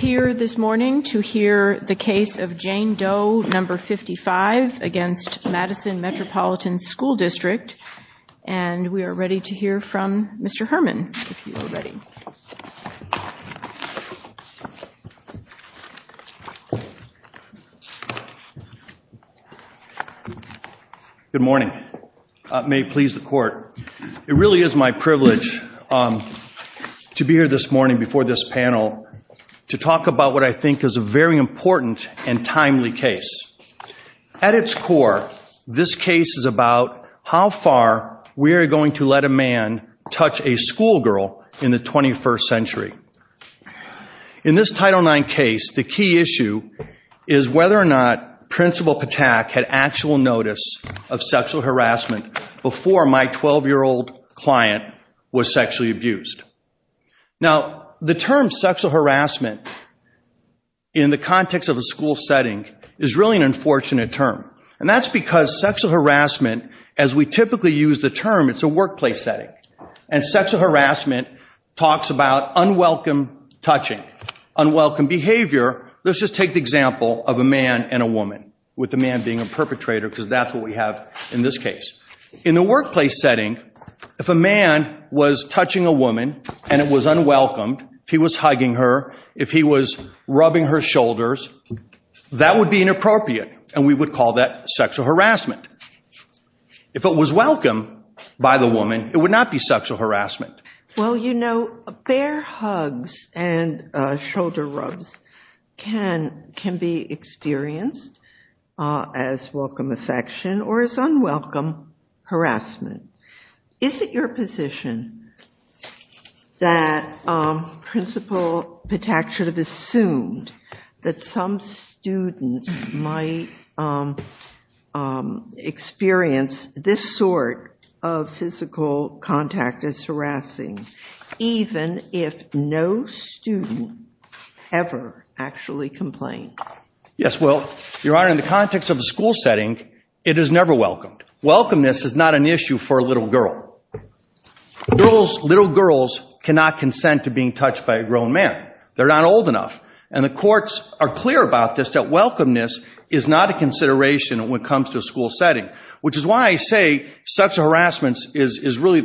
We are here this morning to hear the case of Jane Doe No. 55 v. Madison Metropolitan School District, and we are ready to hear from Mr. Herman, if you are ready. Good morning. May it please the Court, it really is my privilege to be here this morning before this panel to talk about what I think is a very important and timely case. At its core, this case is about how far we are going to let a man touch a schoolgirl in the 21st century. In this Title IX case, the key issue is whether or not Principal Patak had actual notice of sexual harassment before my 12-year-old client was sexually abused. Now, I think that the term sexual harassment in the context of a school setting is really an unfortunate term. And that is because sexual harassment, as we typically use the term, is a workplace setting. And sexual harassment talks about unwelcome touching, unwelcome behavior. Let's just take the example of a man and a woman, with the man being a perpetrator, because that is what we have in this case. In the workplace setting, if a man was touching a woman, if he was hugging her, if he was rubbing her shoulders, that would be inappropriate, and we would call that sexual harassment. If it was welcomed by the woman, it would not be sexual harassment. Well, you know, fair hugs and shoulder rubs can be experienced as welcome affection or as unwelcome harassment. Is it your position that a woman should be allowed to touch a man? And that Principal Patak should have assumed that some student might experience this sort of physical contact as harassing, even if no student ever actually complained? Yes, well, Your Honor, in the context of a school setting, it is never welcomed. Welcomeness is not an issue for a little girl. Little girls cannot consent to being touched by a grown man. They are not old enough. And the courts are clear about this, that welcomeness is not a consideration when it comes to a school setting, which is why I say sexual harassment is really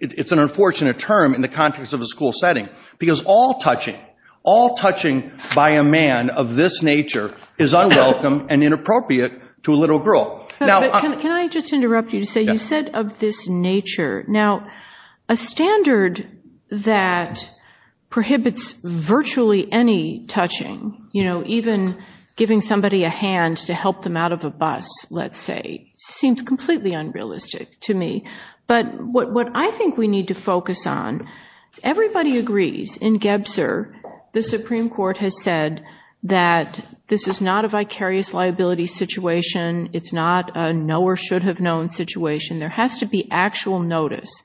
an unfortunate term in the context of a school setting, because all touching, all touching by a man of this nature, is unwelcome and inappropriate to a little girl. Can I just interrupt you to say, you said of this nature. Now, a standard that prohibits virtually any touching, you know, even giving somebody a hand to help them out of a bus, let's say, seems completely unrealistic to me. But what I think we need to focus on, everybody agrees in Gebser, the Supreme Court has said that this is not a vicarious liability situation. It's not a know or should have known situation. There has to be actual notice.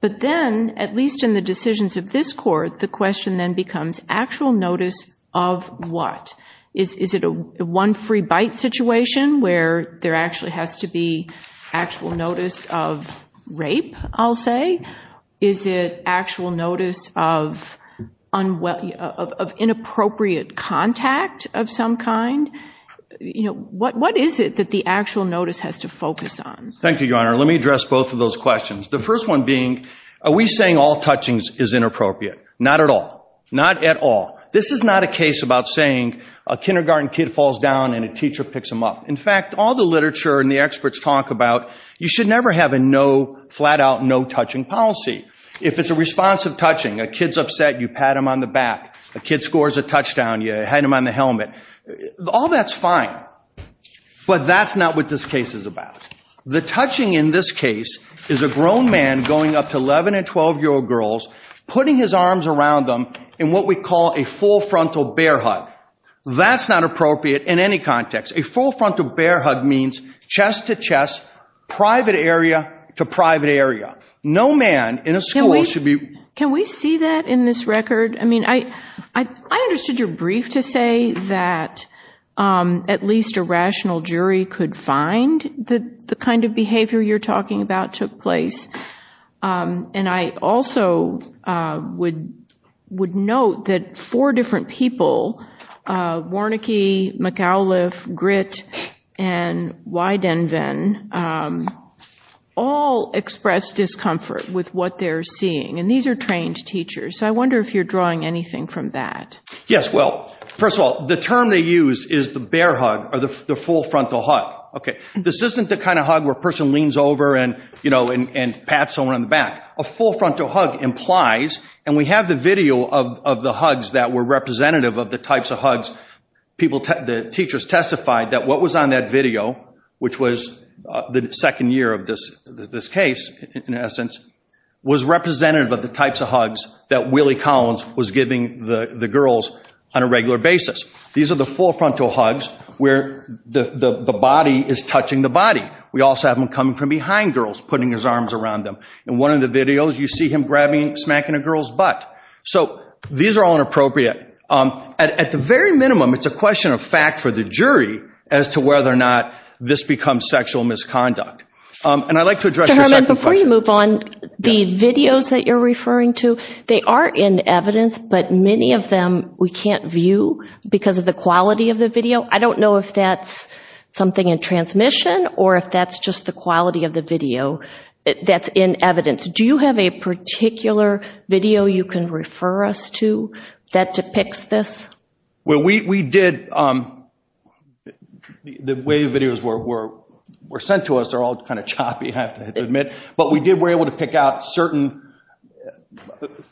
But then, at least in the decisions of this court, the question then becomes actual notice of what? Is it a one free bite situation, where there actually has to be actual notice of rape, I'll say? Is it actual notice of inappropriate contact of some kind? You know, what is it that the actual notice has to focus on? Thank you, Your Honor. Let me address both of those questions. The first one being, are we saying all touching is inappropriate? Not at all. Not at all. This is not a case about saying a kindergarten kid falls down and a teacher picks him up. In fact, all the literature and the experts talk about, you should never have a no, flat out no touching policy. If it's a responsive touching, a kid's upset, you pat him on the back. A kid scores a touchdown, you hang him on the helmet. All that's fine. But that's not what this case is about. The touching in this case is a grown man going up to 11 and 12 year old girls, putting his arms around them in what we call a full frontal bear hug. That's not appropriate in any context. A full frontal bear hug means chest to chest, private area to private area. No man in a school should be... Can we see that in this record? I mean, I understood your brief to say that at least a rational jury could find the kind of behavior you're talking about took place. And I also would note that four different people, Warneke, McAuliffe, Gritt, and Widenvin, all expressed discomfort with what they're seeing. And these are trained teachers. So I wonder if you're drawing anything from that. Yes. Well, first of all, the term they used is the bear hug or the full frontal hug. Okay. This isn't the kind of hug where a person leans over and, you know, and pats someone on the back. A full frontal hug implies, and we have the video of the hugs that were representative of the types of hugs. The teachers testified that what was on that video, which was the bear hug, in essence, was representative of the types of hugs that Willie Collins was giving the girls on a regular basis. These are the full frontal hugs where the body is touching the body. We also have him coming from behind girls, putting his arms around them. In one of the videos, you see him grabbing, smacking a girl's butt. So these are all inappropriate. At the very minimum, it's a question of fact for the jury as to whether or not this becomes sexual misconduct. And I'd like to address your second question. Mr. Herman, before you move on, the videos that you're referring to, they are in evidence, but many of them we can't view because of the quality of the video. I don't know if that's something in transmission or if that's just the quality of the video that's in evidence. Do you have a particular video you can refer us to that depicts this? We did. The way the videos were sent to us, they're all kind of choppy, I have to admit. But we were able to pick out certain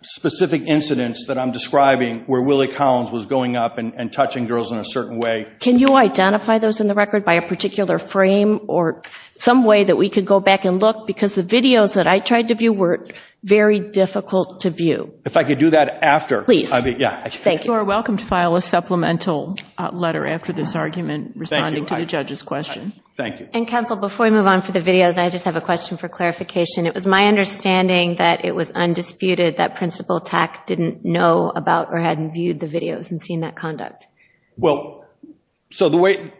specific incidents that I'm describing where Willie Collins was going up and touching girls in a certain way. Can you identify those in the record by a particular frame or some way that we could go back and look? Because the videos that I tried to view were very difficult to view. If I could do that after. Please. You are welcome to file a supplemental letter after this argument responding to the judge's question. Thank you. And counsel, before we move on to the videos, I just have a question for clarification. It was my understanding that it was undisputed that Principal Patak didn't know about or hadn't viewed the videos and seen that conduct. Well, so the way,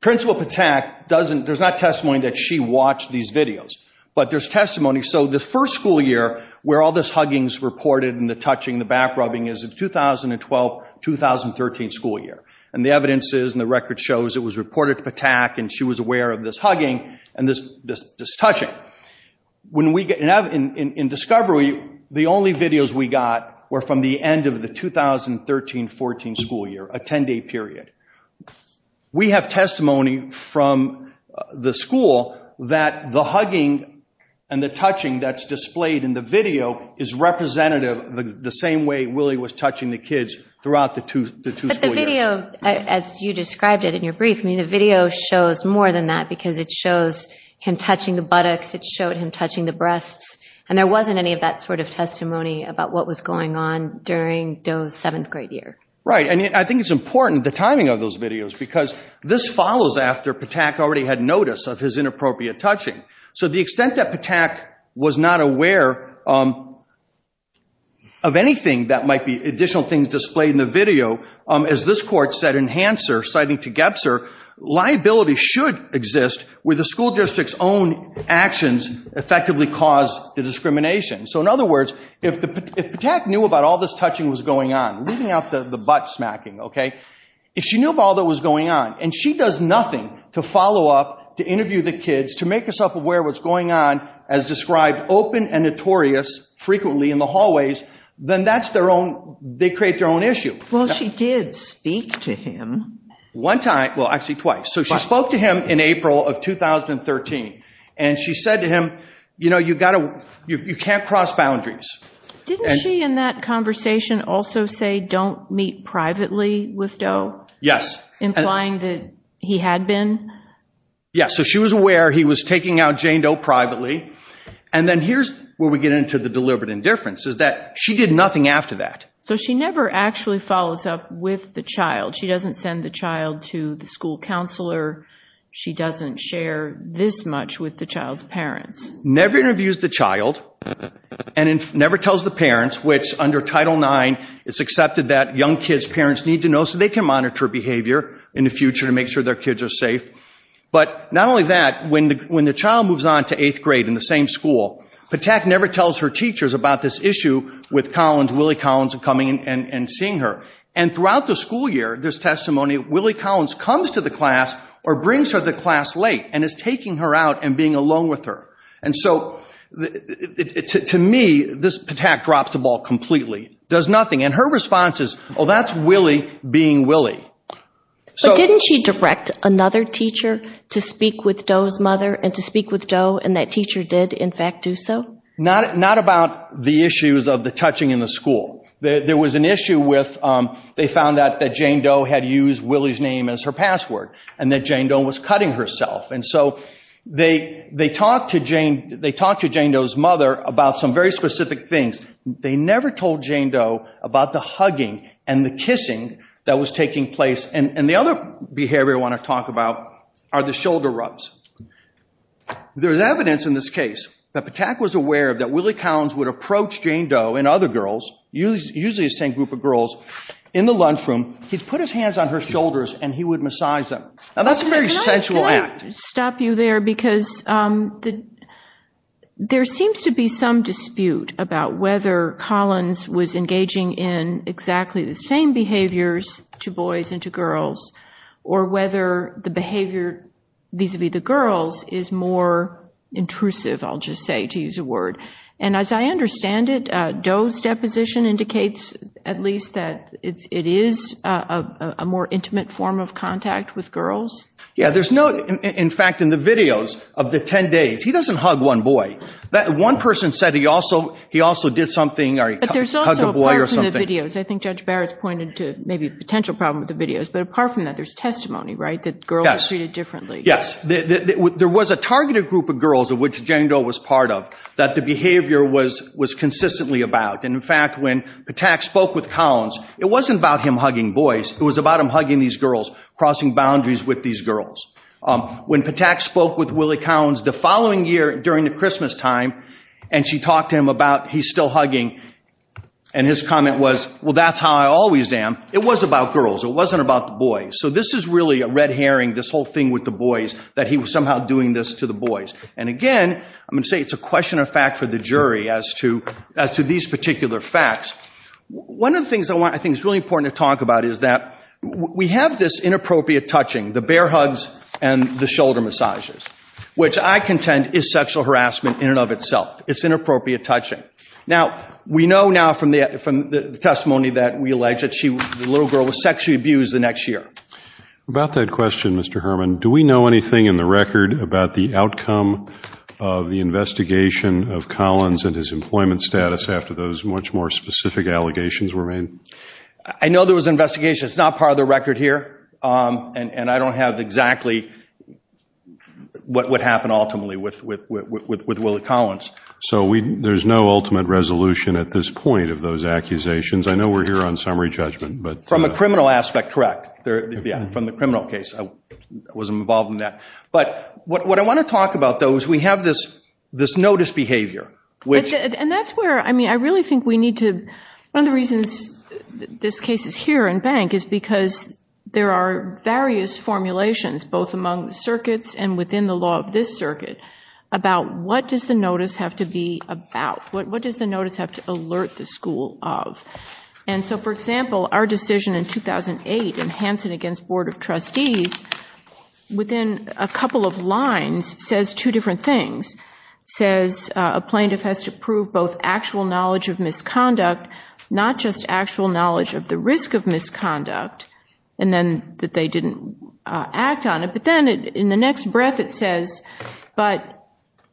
Principal Patak doesn't, there's not testimony that she watched these videos, but there's testimony. So the first school year where all this hugging is reported and the touching, the back rubbing is of 2012-2013 school year. And the evidence is, and the record shows, it was reported to Patak and she was aware of this hugging and this touching. When we, in discovery, the only videos we got were from the end of the 2013-14 school year, a 10-day period. We have testimony from the school that the hugging and the touching that's displayed in the video is representative of the same way Willie was touching the kids throughout the two school years. But the video, as you described it in your brief, I mean, the video shows more than that because it shows him touching the buttocks, it showed him touching the breasts, and there wasn't any of that sort of testimony about what was going on during those seventh grade years. Right. And I think it's important, the timing of those videos, because this follows after Patak already had notice of his inappropriate touching. So the extent that Patak was not aware of anything that might be additional things displayed in the video, as this court said in Hanser, citing to Gebser, liability should exist where the school district's own actions effectively caused the discrimination. So in other words, if Patak knew about all this touching was going on, leaving out the butt smacking, okay, if she knew about all that was going on, and she does nothing to interview the kids to make herself aware of what's going on as described open and notorious frequently in the hallways, then that's their own, they create their own issue. Well, she did speak to him one time, well, actually twice. So she spoke to him in April of 2013, and she said to him, you know, you've got to, you can't cross boundaries. Didn't she in that conversation also say don't meet privately with Doe? Yes. Implying that he had been? Yes. So she was aware he was taking out Jane Doe privately, and then here's where we get into the deliberate indifference, is that she did nothing after that. So she never actually follows up with the child. She doesn't send the child to the school counselor. She doesn't share this much with the child's parents. Never interviews the child, and never tells the parents, which under Title IX, it's accepted that young kids' parents need to know so they can monitor behavior in the future to make sure their kids are safe. But not only that, when the child moves on to eighth grade in the same school, Patak never tells her teachers about this issue with Collins, Willie Collins, of coming and seeing her. And throughout the school year, this testimony, Willie Collins comes to the class or brings her to the class late and is taking her out and being alone with her. And so to me, this Patak drops the ball completely, does nothing. And her response is, oh, that's Willie being Willie. So didn't she direct another teacher to speak with Doe's mother and to speak with Doe, and that teacher did, in fact, do so? Not about the issues of the touching in the school. There was an issue with, they found that Jane Doe had used Willie's name as her password, and that Jane Doe was cutting herself. And so they talked to Jane Doe's mother about some very specific things. They never told Jane Doe about the hugging and the kissing that was taking place. And the other behavior I want to talk about are the shoulder rubs. There's evidence in this case that Patak was aware that Willie Collins would approach Jane Doe and other girls, usually the same group of girls, in the lunchroom, he'd put his hands on her shoulders and he would massage them. Now, that's a very sensual act. I want to stop you there because there seems to be some dispute about whether Collins was engaging in exactly the same behaviors to boys and to girls, or whether the behavior vis-a-vis the girls is more intrusive, I'll just say, to use a word. And as I understand it, Doe's deposition indicates at least that it is a more intimate form of contact with girls? Yeah, there's no, in fact, in the videos of the 10 days, he doesn't hug one boy. One person said he also did something, or he hugged a boy or something. I think Judge Barrett pointed to maybe the potential problem with the videos, but apart from that, there's testimony, right, that girls were treated differently. Yes. There was a targeted group of girls, of which Jane Doe was part of, that the behavior was consistently about. And in fact, when Patak spoke with Collins, it wasn't about him hugging boys, it was about him hugging these girls, crossing boundaries with these girls. When Patak spoke with Willie Collins the following year during the Christmas time, and she talked to him about, he's still hugging, and his comment was, well, that's how I always am, it was about girls, it wasn't about the boys. So this is really a red herring, this whole thing with the boys, that he was somehow doing this to the boys. And again, I'm going to say it's a question of fact for the jury as to these particular facts. One of the things I think is really important to talk about is that we have this inappropriate touching, the bear hugs and the shoulder massages, which I contend is sexual harassment in and of itself. It's inappropriate touching. Now, we know now from the testimony that we alleged that the little girl was sexually abused the next year. About that question, Mr. Herman, do we know anything in the record about the outcome of the investigation of Collins and his employment status after those much more specific allegations were made? I know there was an investigation, it's not part of the record here, and I don't have exactly what would happen ultimately with Willie Collins. So there's no ultimate resolution at this point of those accusations. I know we're here on summary judgment, but... From a criminal aspect, correct. From the criminal case, I was involved in that. But what I want to talk about, though, is we have this notice behavior, which... And that's where, I mean, I really think we need to... One of the reasons this case is here in bank is because there are various formulations, both among the circuits and within the law of this circuit, about what does the notice have to be about? What does the notice have to alert the school of? And so, for example, our decision in 2008 in Hanson against Board of Trustees, within a couple of lines, says two different things. Says a plaintiff has to prove both actual knowledge of misconduct, not just actual knowledge of the risk of misconduct, and then that they didn't act on it. But then in the next breath it says, but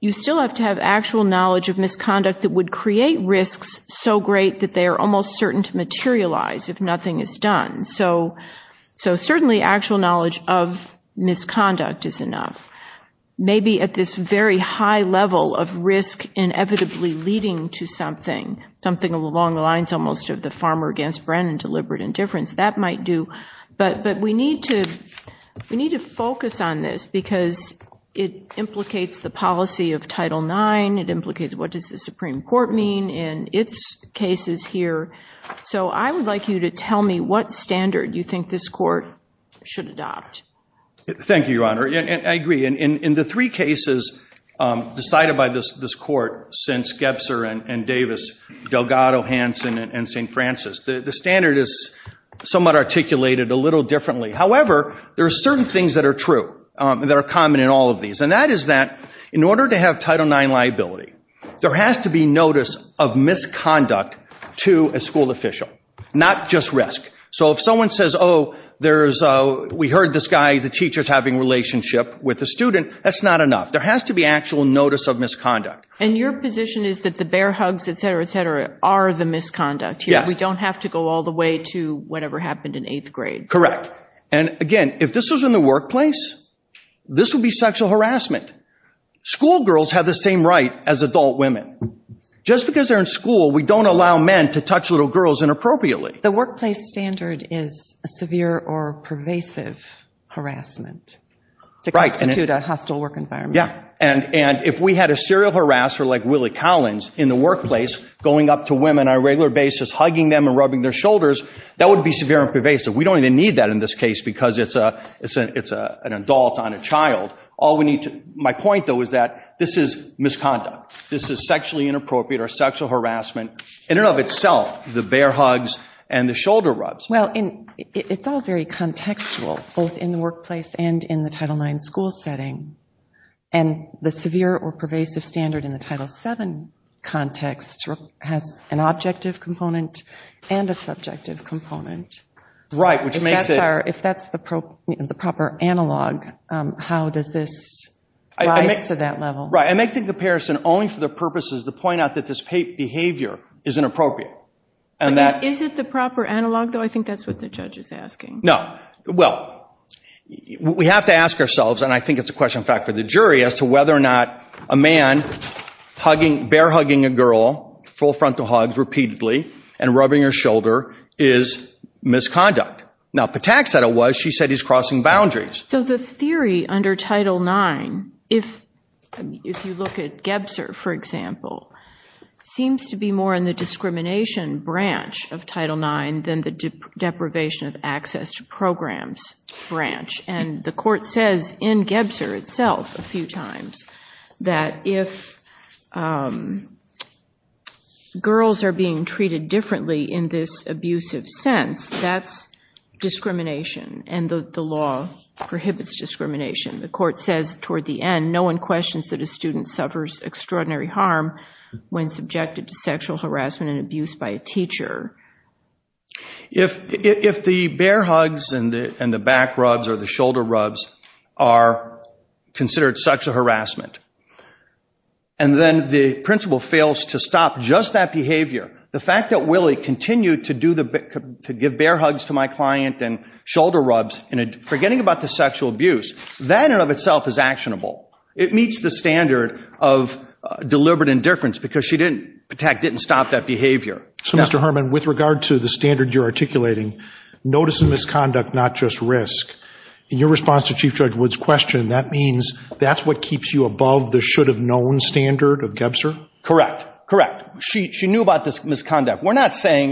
you still have to have actual knowledge of misconduct that would create risks so great that they are almost certain to materialize if nothing is done. So certainly actual knowledge of misconduct is enough. Maybe at this very high level of risk inevitably leading to something, something along the lines almost of the Farmer against Brennan deliberate indifference, that might do. But we need to focus on this because it implicates the policy of Title IX, it implicates what does the Supreme Court mean in its cases here. So I would like you to tell me what standard you think this court should adopt. Thank you, Your Honor. I agree. In the three cases decided by this court, since Gebzer and Davis, Delgado, Hanson, and St. Francis, the standard is somewhat articulated a little differently. However, there are certain things that are true, that are common in all of these. And that is that in order to have Title IX liability, there has to be notice of misconduct to a school official, not just risk. So if someone says, oh, there is, we heard this guy, the teacher is having a relationship with a student, that's not enough. There has to be actual notice of misconduct. And your position is that the bear hugs, et cetera, et cetera, are the misconduct. We don't have to go all the way to whatever happened in eighth grade. Correct. And again, if this was in the workplace, this would be sexual harassment. School girls have the same right as adult women. Just because they're in school, we don't allow men to touch little girls inappropriately. The workplace standard is a severe or pervasive harassment to constitute a hostile work environment. Yeah. And if we had a serial harasser like Willie Collins in the workplace going up to women on a regular basis, hugging them and rubbing their shoulders, that would be severe and pervasive. We don't even need that in this case because it's an adult on a child. My point, though, is that this is misconduct. This is sexually inappropriate or sexual harassment in and of itself, the bear hugs and the shoulder rubs. Well, it's all very contextual, both in the workplace and in the Title IX school setting. And the severe or pervasive standard in the Title VII context has an objective component and a subjective component. Right. If that's the proper analog, how does this rise to that level? Right. I make the comparison only for the purposes to point out that this behavior is inappropriate. Is it the proper analog, though? I think that's what the judge is asking. No. Well, we have to ask ourselves, and I think it's a question, in fact, for the jury, as is misconduct. Now, Patak said it was. She said he's crossing boundaries. So the theory under Title IX, if you look at Gebser, for example, seems to be more in the discrimination branch of Title IX than the deprivation of access to programs branch. And the court says in Gebser itself a few times that if girls are being treated differently in this abusive sense, that's discrimination. And the law prohibits discrimination. The court says toward the end, no one questions that a student suffers extraordinary harm when subjected to sexual harassment and abuse by a teacher. If the bear hugs and the back rubs or the shoulder rubs are considered such a harassment, and then the principal fails to stop just that behavior, the fact that Willie continued to give bear hugs to my client and shoulder rubs and forgetting about the sexual abuse, that in and of itself is actionable. It meets the standard of deliberate indifference because Patak didn't stop that behavior. So, Mr. Herman, with regard to the standard you're articulating, notice of misconduct, not just risk, in your response to Chief Judge Wood's question, that means that's what was above the should-have-known standard of Gebser? Correct. Correct. She knew about this misconduct. We're not saying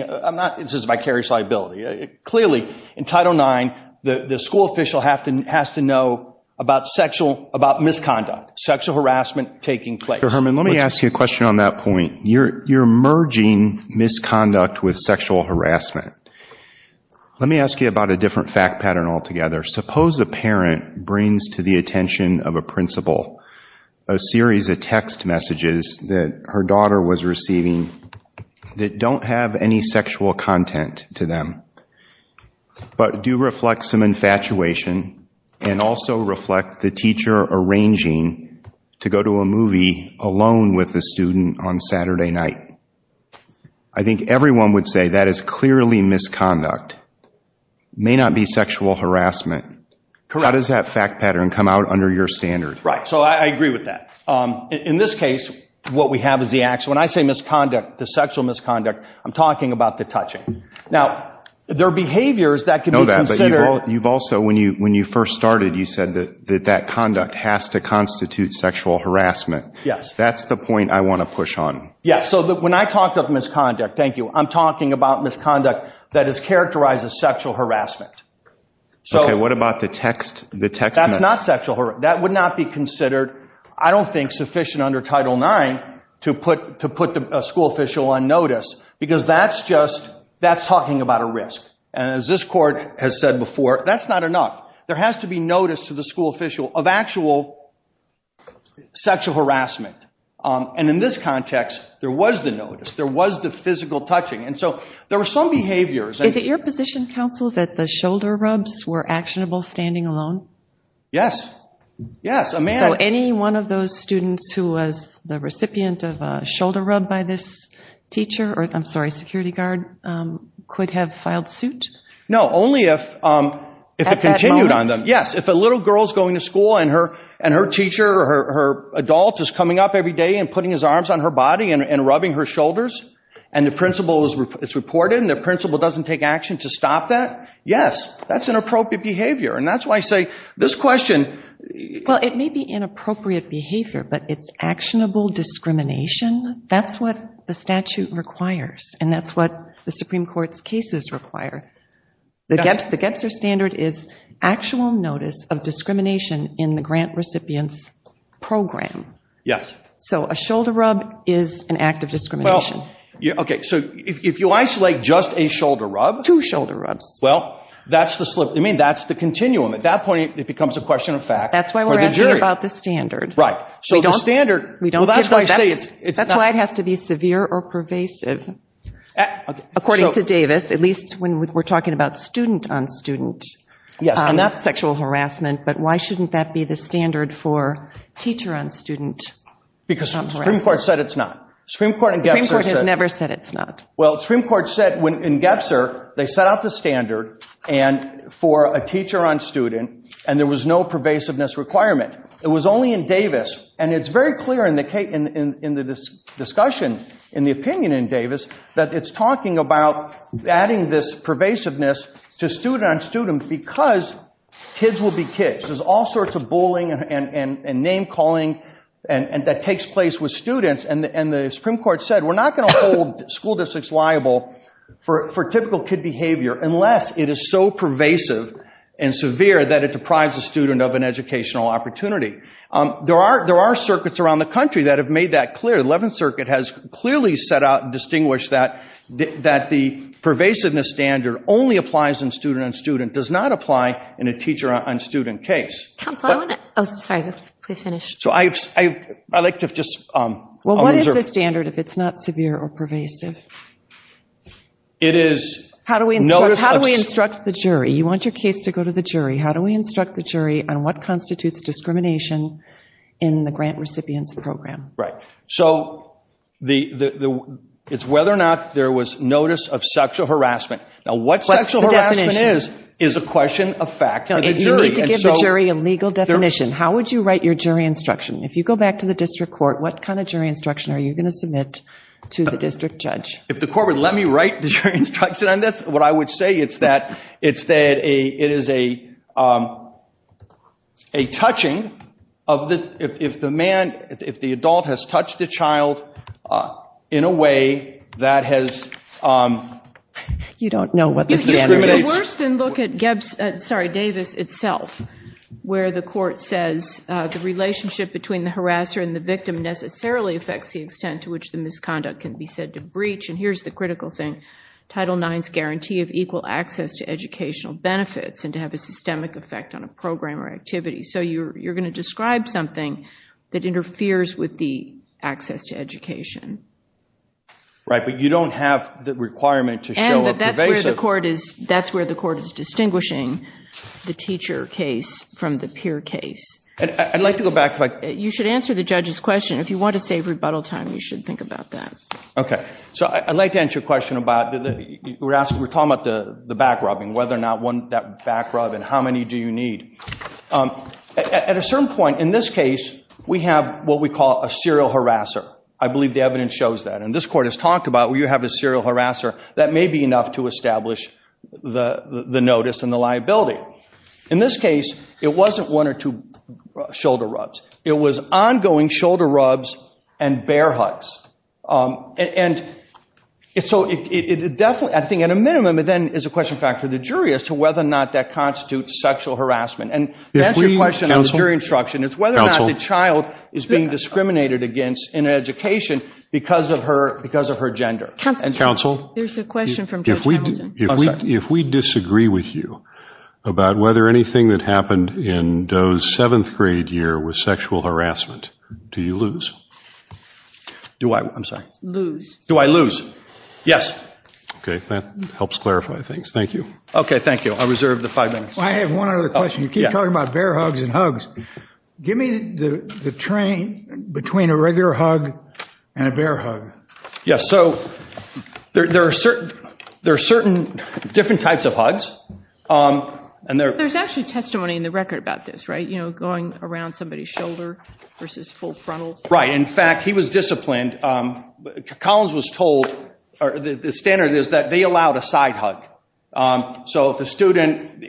this is vicarious liability. Clearly, in Title IX, the school official has to know about misconduct, sexual harassment taking place. Mr. Herman, let me ask you a question on that point. You're merging misconduct with sexual harassment. Let me ask you about a different fact pattern altogether. Suppose a parent brings to the attention of a principal a series of text messages that her daughter was receiving that don't have any sexual content to them, but do reflect some infatuation and also reflect the teacher arranging to go to a movie alone with a student on Saturday night. I think everyone would say that is clearly misconduct. May not be sexual harassment. Correct. How does that fact pattern come out under your standard? Right. I agree with that. In this case, what we have is the actual, when I say misconduct, the sexual misconduct, I'm talking about the touching. Now, there are behaviors that can be considered. You've also, when you first started, you said that that conduct has to constitute sexual harassment. Yes. That's the point I want to push on. Yes. When I talk of misconduct, thank you, I'm talking about misconduct that is characterized as sexual harassment. Okay. What about the text messages? That's not sexual harassment. That would not be considered, I don't think, sufficient under Title IX to put a school official on notice because that's talking about a risk. As this court has said before, that's not enough. There has to be notice to the school official of actual sexual harassment. In this context, there was the notice. There was the physical touching. There were some behaviors. Is it your position, counsel, that the shoulder rubs were actionable standing alone? Yes. Yes, Amanda. Any one of those students who was the recipient of a shoulder rub by this teacher, I'm sorry, security guard, could have filed suit? No, only if it continued on them. At that moment? And her teacher or her adult is coming up every day and putting his arms on her body and rubbing her shoulders, and the principal is reported, and the principal doesn't take action to stop that? Yes. That's inappropriate behavior. And that's why I say this question... Well, it may be inappropriate behavior, but it's actionable discrimination. That's what the statute requires, and that's what the Supreme Court's cases require. The Getser Standard is actual notice of discrimination in the grant recipient's program. Yes. So a shoulder rub is an act of discrimination. Okay, so if you isolate just a shoulder rub... Two shoulder rubs. Well, that's the slip. I mean, that's the continuum. At that point, it becomes a question of fact. That's why we're asking about the standard. Right. So the standard... That's why it has to be severe or pervasive. According to Davis, at least when we're talking about student-on-student sexual harassment, but why shouldn't that be the standard for teacher-on-student? Because Supreme Court said it's not. Supreme Court in Getser said... Supreme Court has never said it's not. Well, Supreme Court said in Getser, they set out the standard for a teacher-on-student, and there was no pervasiveness requirement. It was only in Davis, and it's very clear in the discussion, in the opinion in Davis, that it's talking about adding this pervasiveness to student-on-student because kids will be kids. There's all sorts of bullying and name-calling that takes place with students, and the Supreme Court said we're not going to hold school districts liable for typical kid behavior unless it is so pervasive and severe that it deprives a student of an educational opportunity. There are circuits around the country that have made that clear. Eleventh Circuit has clearly set out and distinguished that the pervasiveness standard only applies in student-on-student, does not apply in a teacher-on-student case. Tom, I want to... Oh, sorry. Please finish. So I'd like to just... Well, what is the standard if it's not severe or pervasive? It is... How do we instruct the jury? You want your case to go to the jury. How do we instruct the jury on what constitutes discrimination in the grant recipient's program? Right. So it's whether or not there was notice of sexual harassment. Now, what sexual harassment is is a question of fact. You need to give the jury a legal definition. How would you write your jury instruction? If you go back to the district court, what kind of jury instruction are you going to submit to the district judge? If the court would let me write the jury instruction on this, what I would say is that it is a touching of this... If the man, if the adult has touched the child in a way that has... You don't know what the standard is. It's worse than look at Davis itself, where the court says the relationship between the harasser and the victim necessarily affects the extent to which the misconduct can be said to breach. And here's the critical thing. Title IX's guarantee of equal access to educational benefits and to have a systemic effect on a program or activity. So you're going to describe something that interferes with the access to education. Right, but you don't have the requirement to show a pervasive... And that's where the court is distinguishing the teacher case from the peer case. I'd like to go back to... You should answer the judge's question. If you want to save rebuttal time, you should think about that. Okay. So I'd like to answer your question about... We're talking about the back rubbing, whether or not that back rub and how many do you need. At a certain point in this case, we have what we call a serial harasser. I believe the evidence shows that. And this court has talked about where you have a serial harasser. That may be enough to establish the notice and the liability. In this case, it wasn't one or two shoulder rubs. It was ongoing shoulder rubs and bear hugs. And so I think at a minimum, it then is a question, in fact, for the jury as to whether or not that constitutes sexual harassment. And that's your question on the jury instruction. It's whether or not the child is being discriminated against in education because of her gender. Counsel? There's a question from Judge Hamilton. If we disagree with you about whether anything that happened in Doe's seventh grade year was sexual harassment, do you lose? Do I? I'm sorry. Lose. Do I lose? Yes. Okay. That helps clarify things. Thank you. Okay. Thank you. I reserve the five minutes. I have one other question. You keep talking about bear hugs and hugs. Give me the train between a regular hug and a bear hug. Yes. So there are certain different types of hugs. There's actually testimony in the record about this, right? You know, going around somebody's shoulder versus full frontal. Right. In fact, he was disciplined. Collins was told, or the standard is that they allowed a side hug. So if a student,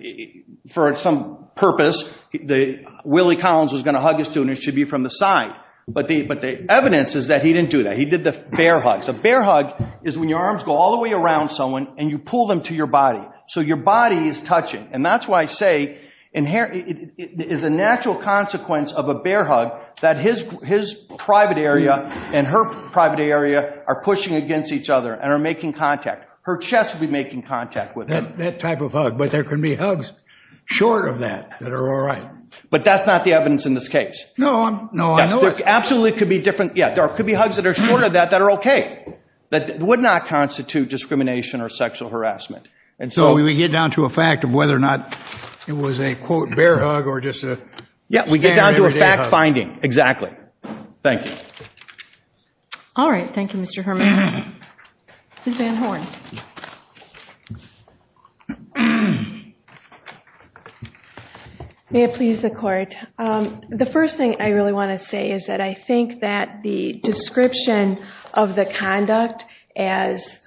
for some purpose, Willie Collins was going to hug a student, it should be from the side. But the evidence is that he didn't do that. He did the bear hug. The bear hug is when your arms go all the way around someone and you pull them to your body. So your body is touching. And that's why I say it is a natural consequence of a bear hug that his private area and her private area are pushing against each other and are making contact. Her chest would be making contact with him. That type of hug. But there can be hugs short of that that are all right. But that's not the evidence in this case. No. Absolutely could be different. Yeah. There could be hugs that are short of that that are okay. That would not constitute discrimination or sexual harassment. So we get down to a fact of whether or not it was a, quote, bear hug or just a standard bear hug. Yeah. We get down to a fact finding. Exactly. Thank you. Thank you, Mr. Herman. Suzanne Horne. May it please the Court. The first thing I really want to say is that I think that the description of the conduct as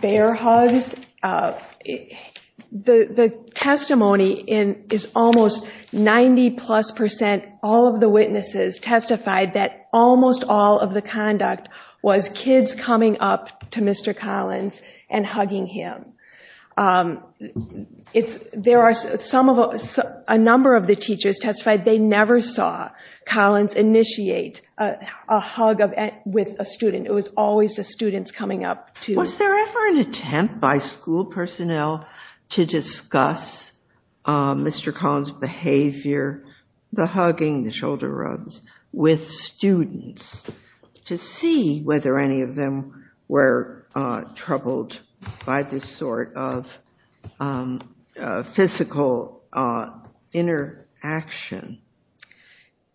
bear hugs, the testimony is almost 90-plus percent all of the witnesses testified that almost all of the conduct was kids coming up to Mr. Collins and hugging him. There are a number of the teachers testified they never saw Collins initiate a hug with a student. It was always the students coming up to him. Was there ever an attempt by school personnel to discuss Mr. Collins' behavior, the hugging, the shoulder rubs, with students to see whether any of them were troubled by this sort of physical interaction?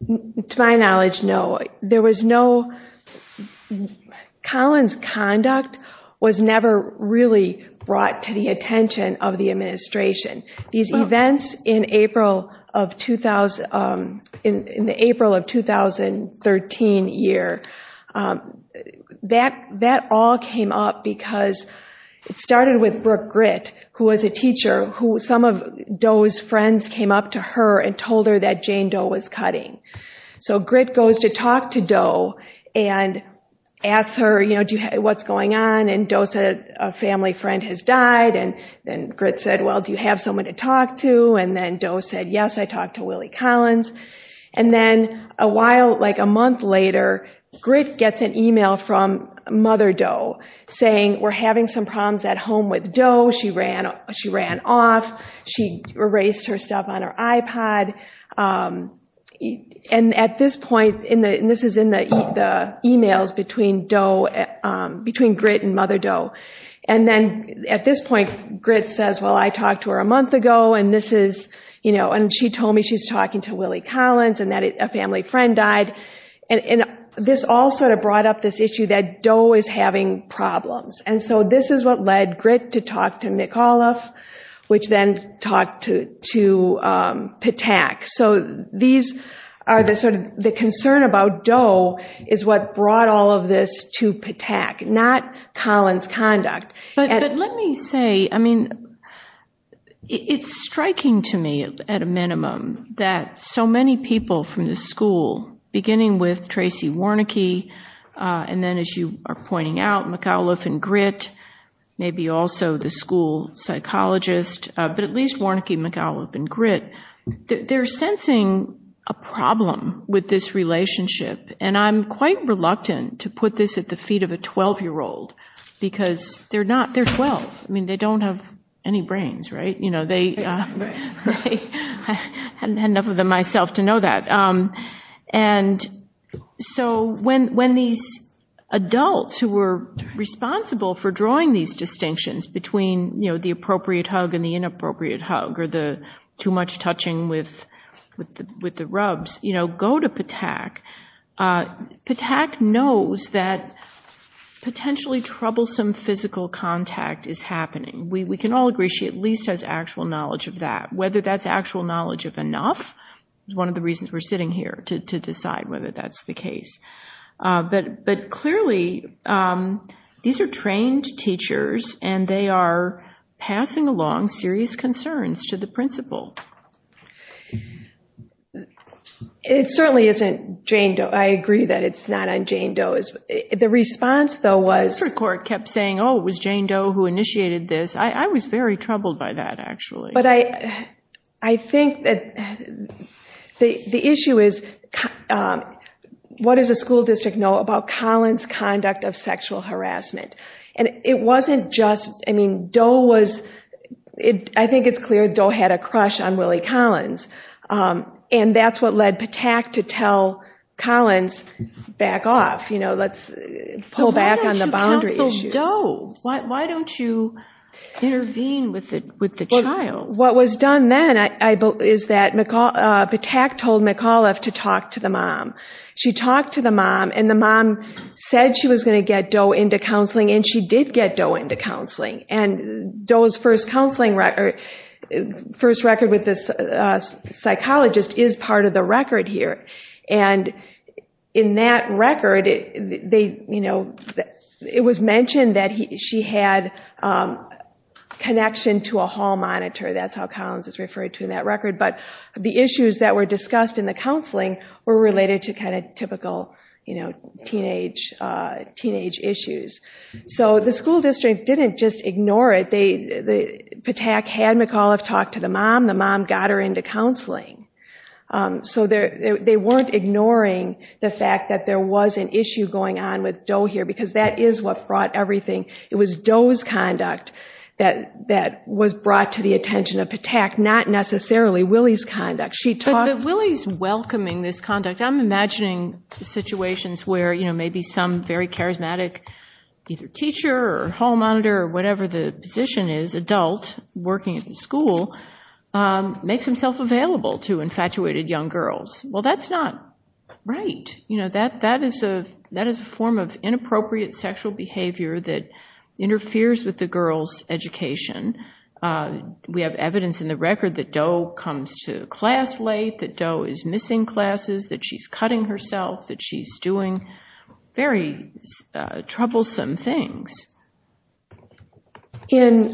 To my knowledge, no. There was no – Collins' conduct was never really brought to the attention of the administration. These events in the April of 2013 year, that all came up because it started with Brooke Gritt, who was a teacher, who some of Doe's friends came up to her and told her that Jane Doe was cutting. So Gritt goes to talk to Doe and asks her, you know, what's going on? And Doe said, a family friend has died. And then Gritt said, well, do you have someone to talk to? And then Doe said, yes, I talked to Willie Collins. And then a while, like a month later, Gritt gets an email from Mother Doe saying, we're having some problems at home with Doe. She ran off. She erased herself on her iPod. And at this point, and this is in the emails between Doe, between Gritt and Mother Doe. And then at this point, Gritt says, well, I talked to her a month ago, and this is, you know, and she told me she's talking to Willie Collins and that a family friend died. And this all sort of brought up this issue that Doe is having problems. And so this is what led Gritt to talk to McAuliffe, which then talked to Patak. So these are the sort of the concern about Doe is what brought all of this to Patak, not Collins' conduct. But let me say, I mean, it's striking to me at a minimum that so many people from the school, beginning with Tracy Warnecke, and then as you are pointing out, McAuliffe and Gritt, maybe also the school psychologist, but at least Warnecke, McAuliffe, and Gritt, they're sensing a problem with this relationship. And I'm quite reluctant to put this at the feet of a 12-year-old, because they're not, they're 12. I mean, they don't have any brains, right? You know, they, right? I hadn't had enough of them myself to know that. And so when these adults who were responsible for drawing these distinctions between, you know, the appropriate hug and the inappropriate hug or the too much touching with the rubs, you know, go to Patak, Patak knows that potentially troublesome physical contact is happening. We can all agree she at least has actual knowledge of that. Whether that's actual knowledge of enough is one of the reasons we're sitting here, to decide whether that's the case. But clearly, these are trained teachers, and they are passing along serious concerns to the principal. It certainly isn't Jane Doe. I agree that it's not on Jane Doe. The response, though, was... The district court kept saying, oh, it was Jane Doe who initiated this. I was very troubled by that, actually. But I think that the issue is, what does the school district know about Collins' conduct of sexual harassment? And it wasn't just, I mean, Doe was, I think it's clear Doe had a crush on Willie Collins. And that's what led Patak to tell Collins, back off, you know, let's pull back on the boundary issue. I mean, why don't you intervene with Doe? Why don't you intervene with the child? What was done then is that Patak told McAuliffe to talk to the mom. She talked to the mom, and the mom said she was going to get Doe into counseling, and she did get Doe into counseling. And Doe's first counseling record, first record with this psychologist is part of the record here. And in that record, it was mentioned that she had connection to a hall monitor. That's how Collins is referred to in that record. But the issues that were discussed in the counseling were related to kind of typical teenage issues. So the school district didn't just ignore it. Patak had McAuliffe talk to the mom. The mom got her into counseling. So they weren't ignoring the fact that there was an issue going on with Doe here, because that is what brought everything. It was Doe's conduct that was brought to the attention of Patak, not necessarily Willie's conduct. But Willie's welcoming this conduct. I'm imagining situations where, you know, maybe some very charismatic teacher or hall monitor or whatever the position is, adult, working at the school, makes himself available to infatuated young girls. Well, that's not right. You know, that is a form of inappropriate sexual behavior that interferes with the girl's education. We have evidence in the record that Doe comes to class late, that Doe is missing classes, that she's cutting herself, that she's doing very troublesome things. During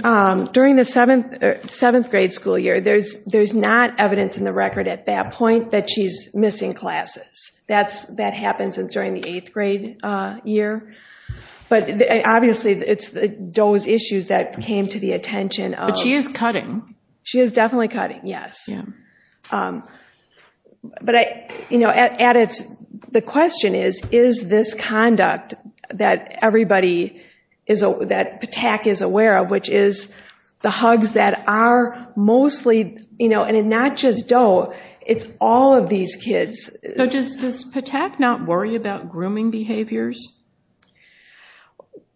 the seventh grade school year, there's not evidence in the record at that point that she's missing classes. That happens during the eighth grade year. But obviously it's Doe's issues that came to the attention. But she is cutting. She is definitely cutting, yes. But, you know, the question is, is this conduct that everybody, that Patak is aware of, which is the hugs that are mostly, you know, and not just Doe, it's all of these kids. So does Patak not worry about grooming behaviors?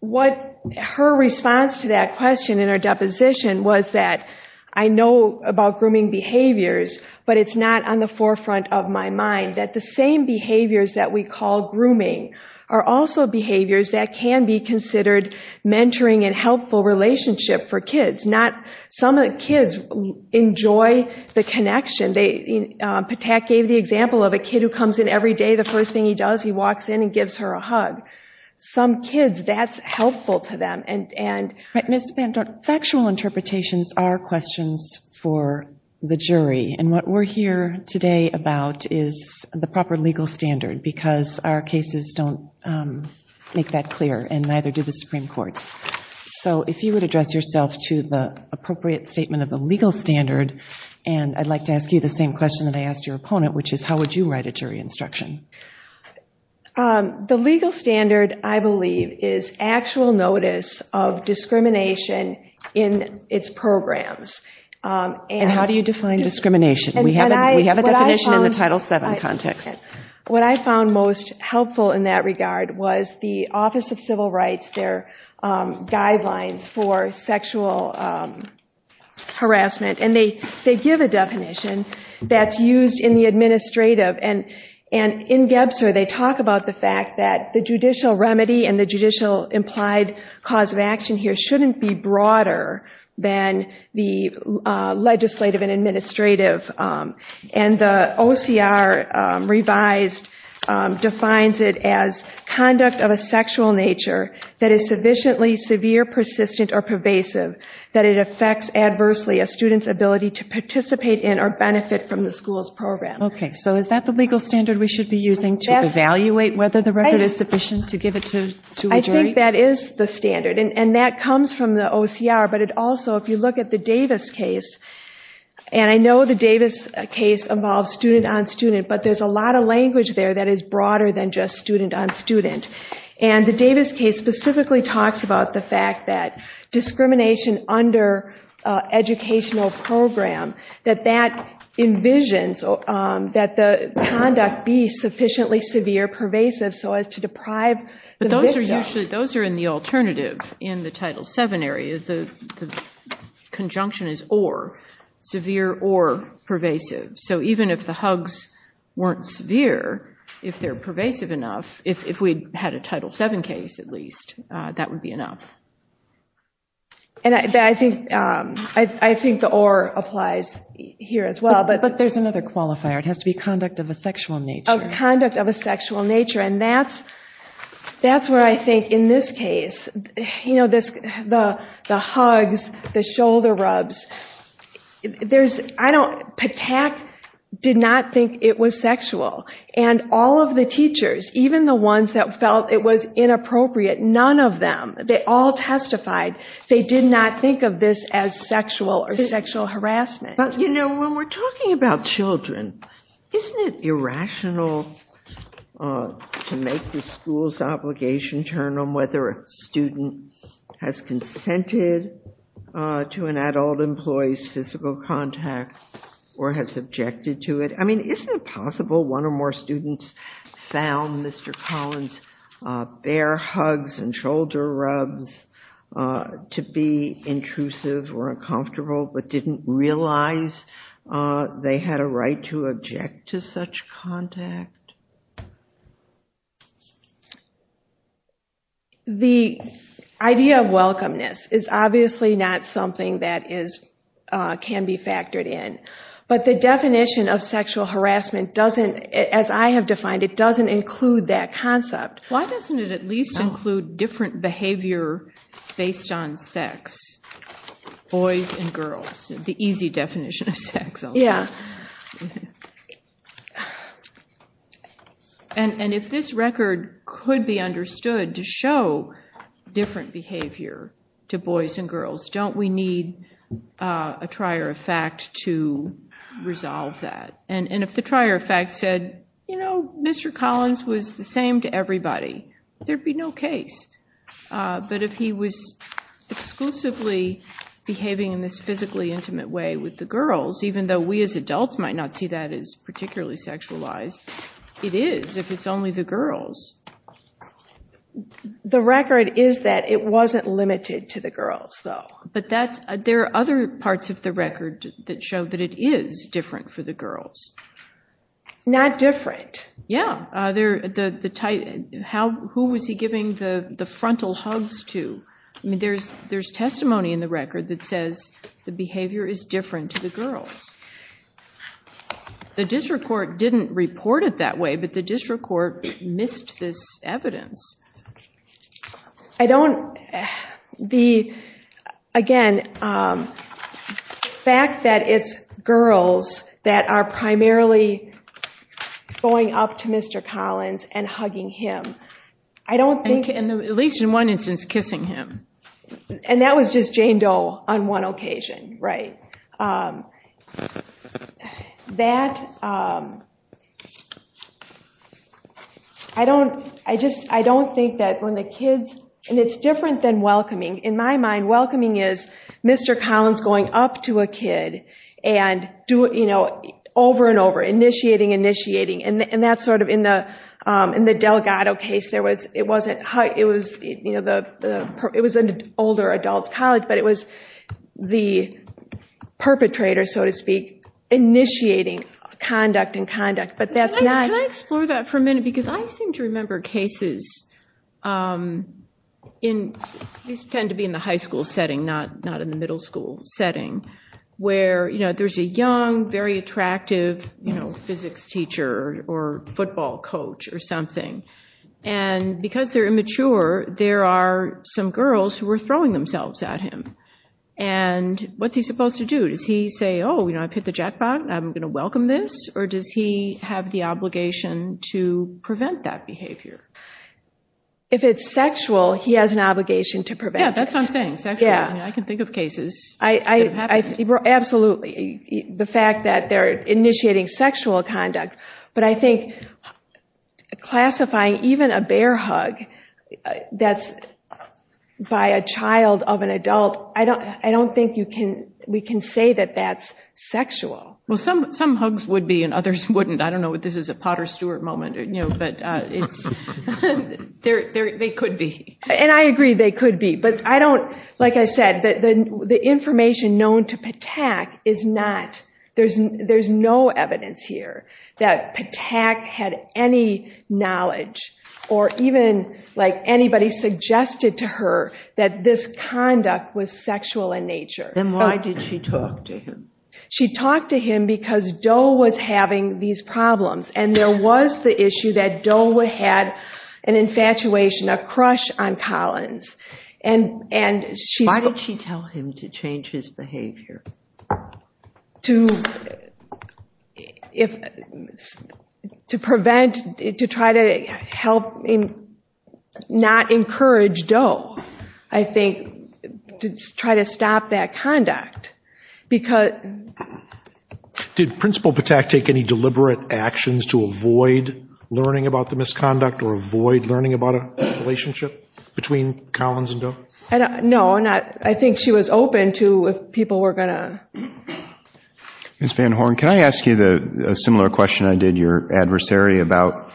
What her response to that question in her deposition was that, I know about grooming behaviors, but it's not on the forefront of my mind, that the same behaviors that we call grooming are also behaviors that can be considered mentoring and helpful relationship for kids. Some of the kids enjoy the connection. Patak gave the example of a kid who comes in every day, the first thing he does, he walks in and gives her a hug. Some kids, that's helpful to them. But, Ms. Benton, factual interpretations are questions for the jury. And what we're here today about is the proper legal standard because our cases don't make that clear and neither do the Supreme Court. So if you would address yourself to the appropriate statement of the legal standard, and I'd like to ask you the same question that I asked your opponent, which is how would you write a jury instruction? The legal standard, I believe, is actual notice of discrimination in its programs. And how do you define discrimination? We have a definition in the Title VII context. What I found most helpful in that regard was the Office of Civil Rights, their guidelines for sexual harassment, and they give a definition that's used in the administrative. And in Gebser, they talk about the fact that the judicial remedy and the judicial implied cause of action here shouldn't be broader than the legislative and administrative. And the OCR revised defines it as conduct of a sexual nature that is sufficiently severe, persistent, or pervasive, that it affects adversely a student's ability to participate in or benefit from the school's program. Okay, so is that the legal standard we should be using to evaluate whether the record is sufficient to give it to a jury? I think that is the standard, and that comes from the OCR, but it also, if you look at the Davis case, and I know the Davis case involves student on student, but there's a lot of language there that is broader than just student on student. And the Davis case specifically talks about the fact that discrimination under educational program, that that envisions that the conduct be sufficiently severe, pervasive, so as to deprive the victim. Those are in the alternative in the Title VII areas. The conjunction is or, severe or pervasive. So even if the hugs weren't severe, if they're pervasive enough, if we had a Title VII case at least, that would be enough. And I think the or applies here as well. But there's another qualifier. It has to be conduct of a sexual nature. Conduct of a sexual nature, and that's where I think in this case, you know, the hugs, the shoulder rubs, there's, I don't, Patak did not think it was sexual. And all of the teachers, even the ones that felt it was inappropriate, none of them, they all testified, they did not think of this as sexual or sexual harassment. But, you know, when we're talking about children, isn't it irrational to make the school's obligation determine whether a student has consented to an adult employee's physical contact or has objected to it? I mean, isn't it possible one or more students found Mr. Collins' bare hugs and shoulder rubs to be intrusive or uncomfortable but didn't realize they had a right to object to such contact? The idea of welcomeness is obviously not something that can be factored in. It's not something that can be factored in. But the definition of sexual harassment doesn't, as I have defined it, doesn't include that concept. Why doesn't it at least include different behavior based on sex? Boys and girls, the easy definition of sex. And if this record could be understood to show different behavior to boys and girls, don't we need a trier of fact to resolve that? And if the trier of fact said, you know, Mr. Collins was the same to everybody, there'd be no case. But if he was exclusively behaving in this physically intimate way with the girls, even though we as adults might not see that as particularly sexualized, it is if it's only the girls. The record is that it wasn't limited to the girls, though. But there are other parts of the record that show that it is different for the girls. Not different. Yeah. Who was he giving the frontal hugs to? There's testimony in the record that says the behavior is different to the girls. The district court didn't report it that way, but the district court missed this evidence. Again, the fact that it's girls that are primarily going up to Mr. Collins and hugging him, I don't think... At least in one instance, kissing him. And that was just Jane Doe on one occasion, right? That... I don't think that when the kids... And it's different than welcoming. In my mind, welcoming is Mr. Collins going up to a kid and, you know, over and over, initiating, initiating. And that's sort of in the Delgado case. It was an older adult college, but it was the perpetrator, so to speak, initiating conduct and conduct. But that's not... Can I explore that for a minute? Because I seem to remember cases in... These tend to be in the high school setting, not in the middle school setting, where, you know, there's a young, very attractive, you know, physics teacher or football coach or something. And because they're immature, there are some girls who are throwing themselves at him. And what's he supposed to do? Does he say, oh, you know, I've hit the jackpot, I'm going to welcome this? Or does he have the obligation to prevent that behavior? If it's sexual, he has an obligation to prevent it. Yeah, that's what I'm saying. I can think of cases. Absolutely. The fact that they're initiating sexual conduct. But I think classifying even a bear hug that's by a child of an adult, I don't think you can... We can say that that's sexual. Well, some hugs would be and others wouldn't. I don't know if this is a Potter Stewart moment, you know, but they could be. And I agree they could be. But I don't... I don't think that Patak had any knowledge or even, like, anybody suggested to her that this conduct was sexual in nature. And why did she talk to him? She talked to him because Doe was having these problems. And there was the issue that Doe had an infatuation, a crush on Collins. Why did she tell him to change his behavior? To prevent, to try to help not encourage Doe, I think, to try to stop that conduct. Did Principal Patak take any deliberate actions to avoid learning about the misconduct or avoid learning about a relationship between Collins and Doe? No, not... I think she was open to if people were going to... Ms. Van Horn, can I ask you a similar question I did your adversary about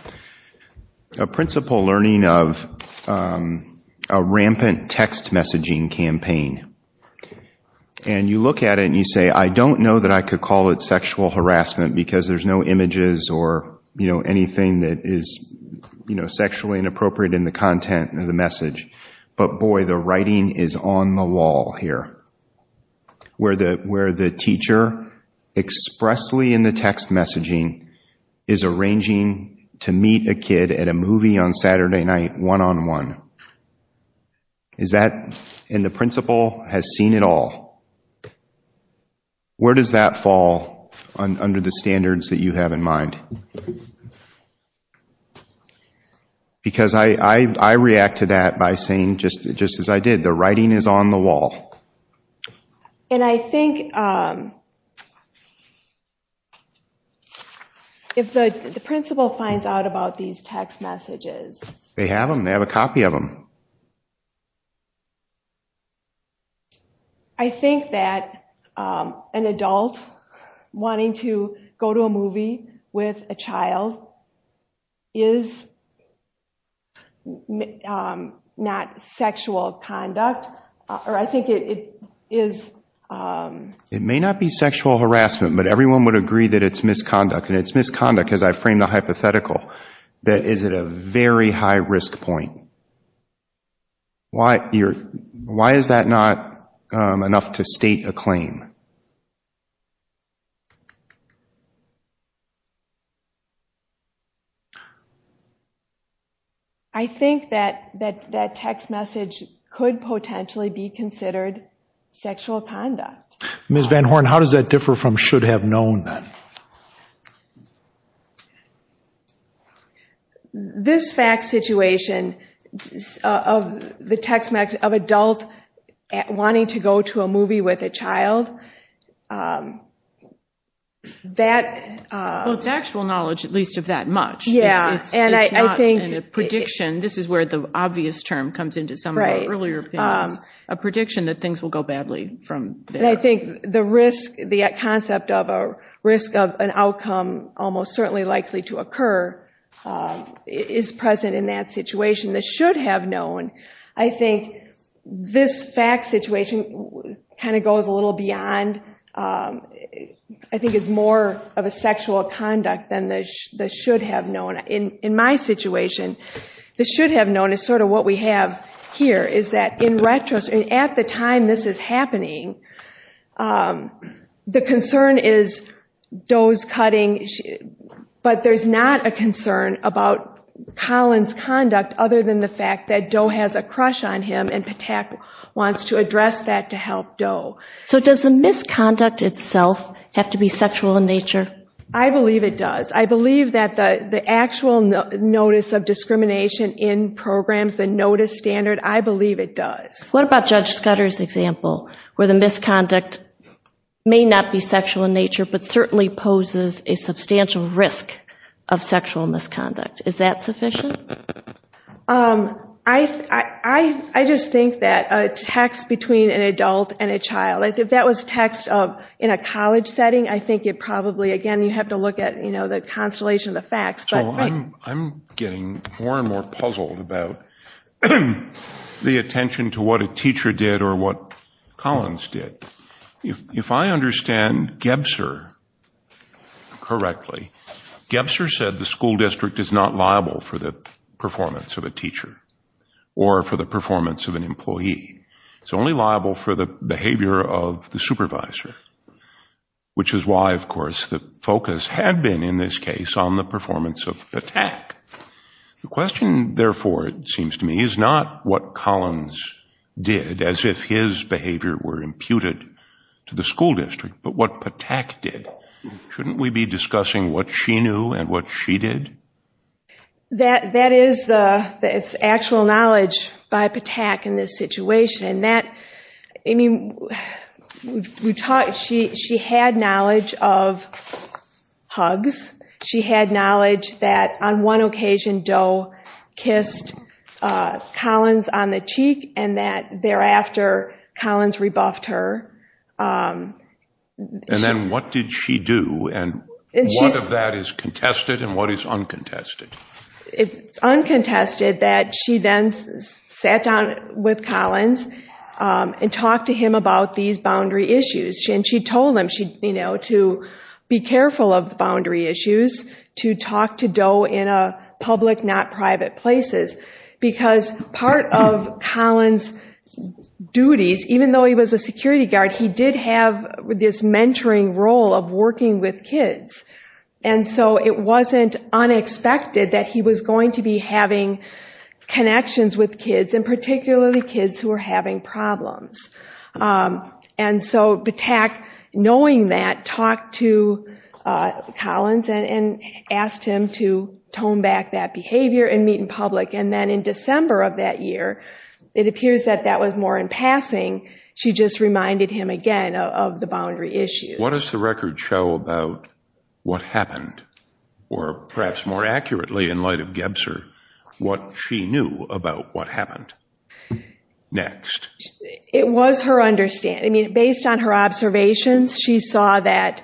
a principal learning of a rampant text messaging campaign? And you look at it and you say, I don't know that I could call it sexual harassment because there's no images or, you know, anything that is, you know, sexually inappropriate in the content of the message. But, boy, the writing is on the wall here where the teacher expressly in the text messaging is arranging to meet a kid at a movie on Saturday night one-on-one. Is that, and the principal has seen it all. Where does that fall under the standards that you have in mind? Because I react to that by saying, just as I did, the writing is on the wall. And I think if the principal finds out about these text messages... They have them, they have a copy of them. I think that an adult wanting to go to a movie with a child is not sexual conduct, or I think it is... It may not be sexual harassment, but everyone would agree that it's misconduct. And it's misconduct, as I framed the hypothetical, that is at a very high risk point. Why is that not enough to state a claim? I think that that text message could potentially be considered sexual conduct. Ms. Van Horn, how does that differ from should have known then? This fact situation of the text message of an adult wanting to go to a movie with a child, that... Well, it's actual knowledge, at least of that much. Yeah, and I think... It's not a prediction. This is where the obvious term comes into some of the earlier... Right. A prediction that things will go badly from there. But I think the risk, the concept of a risk of an outcome almost certainly likely to occur is present in that situation. The should have known, I think this fact situation kind of goes a little beyond... I think it's more of a sexual conduct than the should have known. In my situation, the should have known is sort of what we have here. What we have here is that in retrospect, at the time this is happening, the concern is Doe's cutting. But there's not a concern about Colin's conduct other than the fact that Doe has a crush on him and Patak wants to address that to help Doe. So does the misconduct itself have to be sexual in nature? I believe it does. I believe that the actual notice of discrimination in programs, the notice standard, I believe it does. What about Judge Sutter's example where the misconduct may not be sexual in nature but certainly poses a substantial risk of sexual misconduct? Is that sufficient? I just think that a text between an adult and a child, if that was text in a college setting, I think it probably, again, you have to look at the constellation of the facts. I'm getting more and more puzzled about the attention to what a teacher did or what Collins did. If I understand Gebster correctly, Gebster said the school district is not liable for the performance of a teacher or for the performance of an employee. It's only liable for the behavior of the supervisor, which is why, of course, the focus had been, in this case, on the performance of Patak. The question, therefore, it seems to me, is not what Collins did as if his behavior were imputed to the school district, but what Patak did. Shouldn't we be discussing what she knew and what she did? That is actual knowledge by Patak in this situation. She had knowledge of hugs. She had knowledge that on one occasion Doe kissed Collins on the cheek and that thereafter Collins rebuffed her. Then what did she do? What of that is contested and what is uncontested? It's uncontested that she then sat down with Collins and talked to him about these boundary issues. She told him to be careful of boundary issues, to talk to Doe in public, not private places, because part of Collins' duties, even though he was a security guard, was to have this mentoring role of working with kids. It wasn't unexpected that he was going to be having connections with kids, and particularly kids who were having problems. Patak, knowing that, talked to Collins and asked him to tone back that behavior and meet in public. Then in December of that year, it appears that that was more in passing, she just reminded him again of the boundary issues. What does the record show about what happened, or perhaps more accurately in light of Gebzer, what she knew about what happened? It was her understanding. Based on her observations, she saw that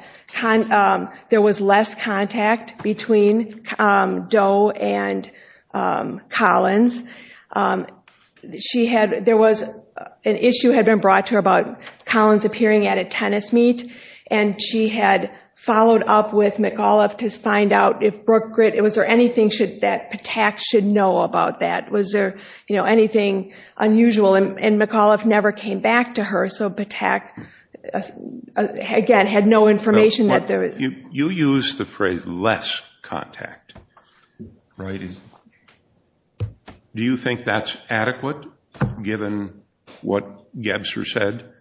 there was less contact between Doe and Collins. There was an issue had been brought to her about Collins appearing at a tennis meet, and she had followed up with McAuliffe to find out if Brookgrit, was there anything that Patak should know about that? Was there anything unusual, and McAuliffe never came back to her, so Patak, again, had no information. You used the phrase, less contact. Do you think that's adequate, given what Gebzer said?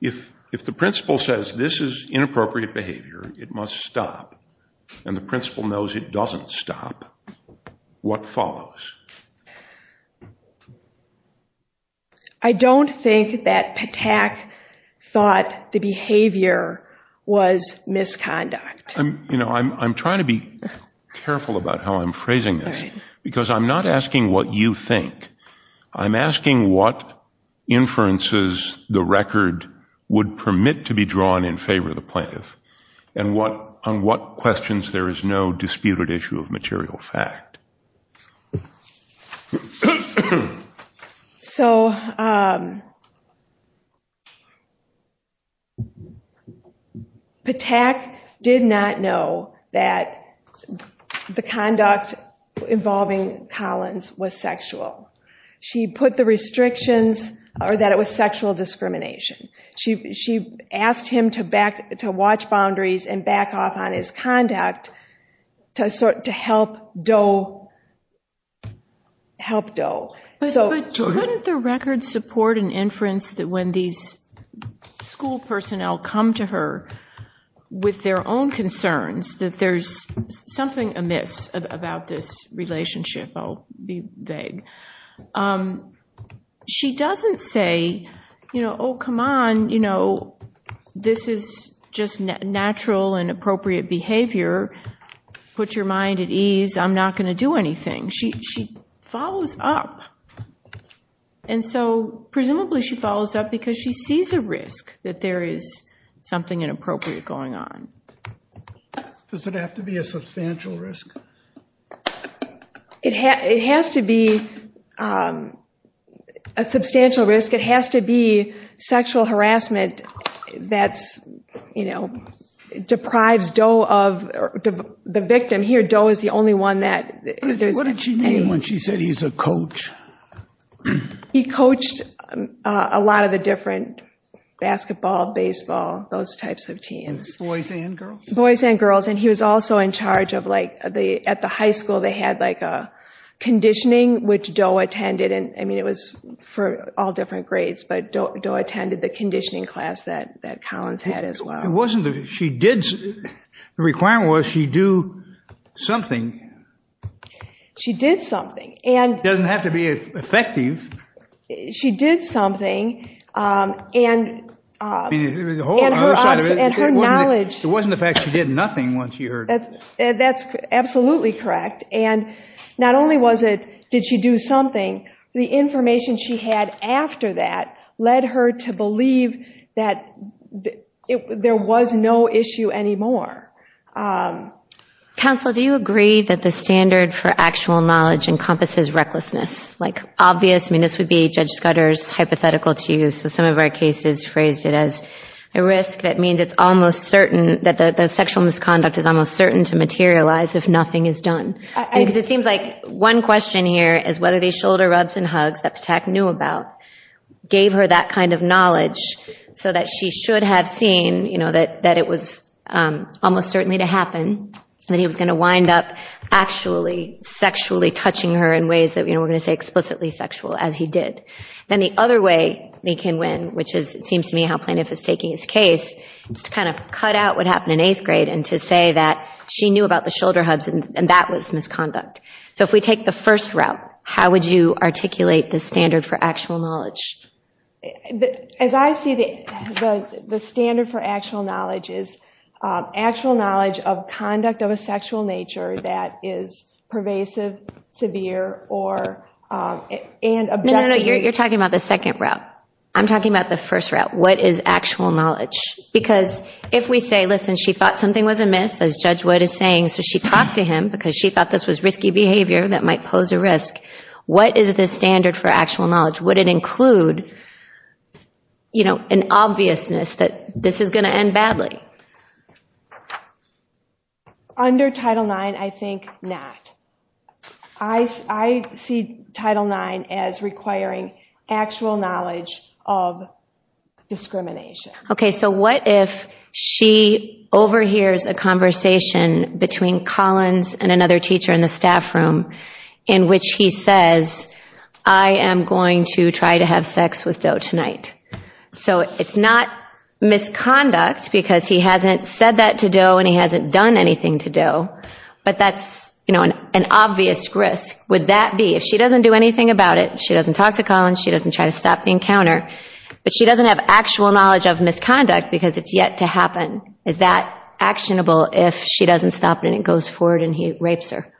If the principal says this is inappropriate behavior, it must stop, and the principal knows it doesn't stop, what follows? I don't think that Patak thought the behavior was misconduct. I'm trying to be careful about how I'm phrasing this, because I'm not asking what you think. I'm asking what inferences the record would permit to be drawn in favor of the plaintiff, and on what questions there is no disputed issue of material fact. So, Patak did not know that the conduct involving Collins was sexual. She put the restrictions that it was sexual discrimination. She asked him to watch boundaries and back off on his conduct, to help Doe. But wouldn't the record support an inference that when these school personnel come to her with their own concerns, that there's something amiss about this relationship? I'll be vague. She doesn't say, oh, come on, this is just natural and appropriate behavior. Put your mind at ease. I'm not going to do anything. She follows up. And so, presumably, she follows up because she sees a risk that there is something inappropriate going on. Does it have to be a substantial risk? It has to be a substantial risk. It has to be sexual harassment that deprives Doe of the victim. Here, Doe is the only one that… What did she mean when she said he's a coach? He coached a lot of the different basketball, baseball, those types of teams. Boys and girls. Boys and girls. And he was also in charge of… At the high school, they had conditioning, which Doe attended. It was for all different grades, but Doe attended the conditioning class that Collins had as well. The requirement was she do something. She did something. It doesn't have to be effective. She did something. And her knowledge… It wasn't the fact she did nothing when she heard… That's absolutely correct. And not only did she do something, the information she had after that led her to believe that there was no issue anymore. Counsel, do you agree that the standard for actual knowledge encompasses recklessness? Like, obvious… I mean, this would be Judge Scudder's hypothetical to use. Some of our cases phrased it as a risk that means it's almost certain… That the sexual misconduct is almost certain to materialize if nothing is done. It seems like one question here is whether these shoulder rubs and hugs that Patak knew about gave her that kind of knowledge so that she should have seen that it was almost certainly to happen, and that he was going to wind up actually sexually touching her in ways that we're going to say explicitly sexual, as he did. And the other way they can win, which seems to me how Planoff is taking his case, is to kind of cut out what happened in eighth grade and to say that she knew about the shoulder hugs and that was misconduct. So if we take the first route, how would you articulate the standard for actual knowledge? As I see it, the standard for actual knowledge is actual knowledge of conduct of a sexual nature that is pervasive, severe, or… No, no, no, you're talking about the second route. I'm talking about the first route. What is actual knowledge? Because if we say, listen, she thought something was amiss, as Judge Wood is saying, so she talked to him because she thought this was risky behavior that might pose a risk. What is the standard for actual knowledge? Would it include an obviousness that this is going to end badly? Under Title IX, I think not. I see Title IX as requiring actual knowledge of discrimination. Okay, so what if she overhears a conversation between Collins and another teacher in the staff room in which he says, I am going to try to have sex with Doe tonight. So it's not misconduct because he hasn't said that to Doe and he hasn't done anything to Doe, but that's an obvious risk. Would that be… If she doesn't do anything about it, she doesn't talk to Collins, she doesn't try to stop the encounter, but she doesn't have actual knowledge of misconduct because it's yet to happen. Is that actionable if she doesn't stop and it goes forward and he rapes her?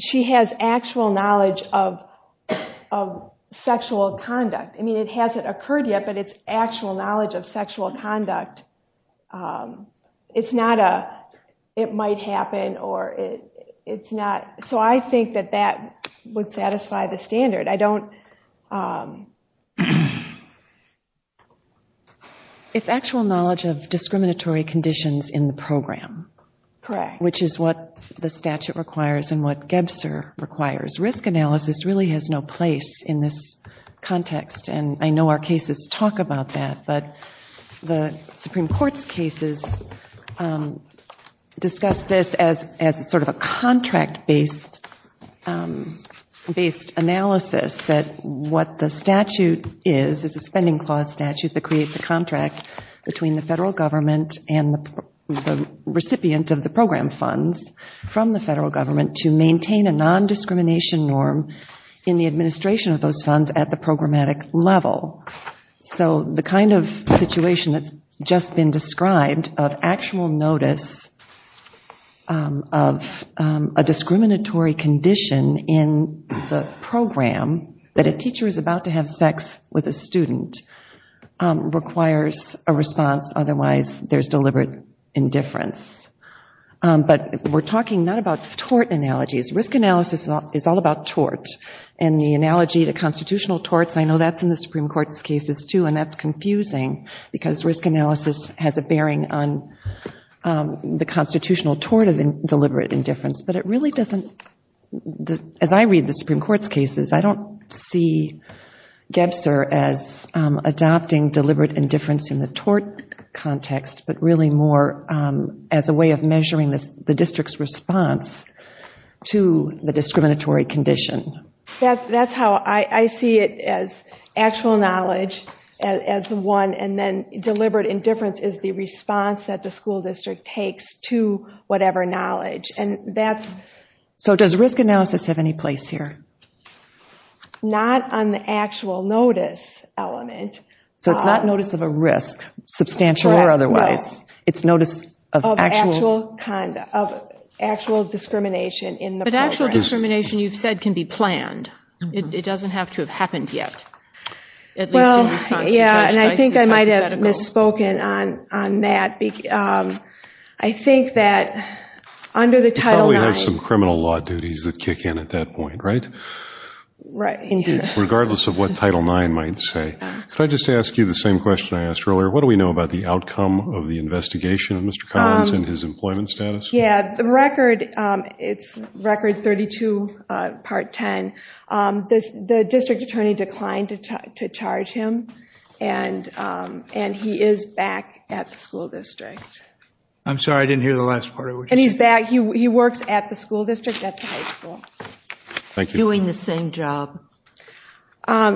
She has actual knowledge of sexual conduct. I mean, it hasn't occurred yet, but it's actual knowledge of sexual conduct. It's not a, it might happen or it's not. So I think that that would satisfy the standard. I don't… It's actual knowledge of discriminatory conditions in the program. Correct. Which is what the statute requires and what Gebster requires. Risk analysis really has no place in this context and I know our cases talk about that, but the Supreme Court's cases discuss this as sort of a contract-based analysis that what the statute is, is a spending clause statute that creates a contract between the federal government and the recipient of the program funds from the federal government to maintain a nondiscrimination norm in the administration of those funds at the programmatic level. So the kind of situation that's just been described of actual notice of a discriminatory condition in the program that a teacher is about to have sex with a student requires a response, otherwise there's deliberate indifference. But we're talking not about tort analogies. Risk analysis is all about torts. And the analogy to constitutional torts, I know that's in the Supreme Court's cases too and that's confusing because risk analysis has a bearing on the constitutional tort of deliberate indifference. But it really doesn't, as I read the Supreme Court's cases, I don't see Gebster as adopting deliberate indifference in the tort context, but really more as a way of measuring the district's response to the discriminatory condition. That's how I see it as actual knowledge as one and then deliberate indifference is the response that the school district takes to whatever knowledge. So does risk analysis have any place here? Not on the actual notice element. So it's not notice of a risk, substantial or otherwise. It's notice of actual discrimination in the program. Discrimination, you said, can be planned. It doesn't have to have happened yet. Well, yeah, and I think I might have misspoken on that. I think that under the Title IX... You probably have some criminal law duties that kick in at that point, right? Right. Regardless of what Title IX might say. Can I just ask you the same question I asked earlier? What do we know about the outcome of the investigation, Mr. Conrad, and his employment status? Yeah, the record, it's Record 32, Part 10. The district attorney declined to charge him, and he is back at the school district. I'm sorry, I didn't hear the last part of what you said. And he's back. He works at the school district, at the high school. Thank you. Doing the same job.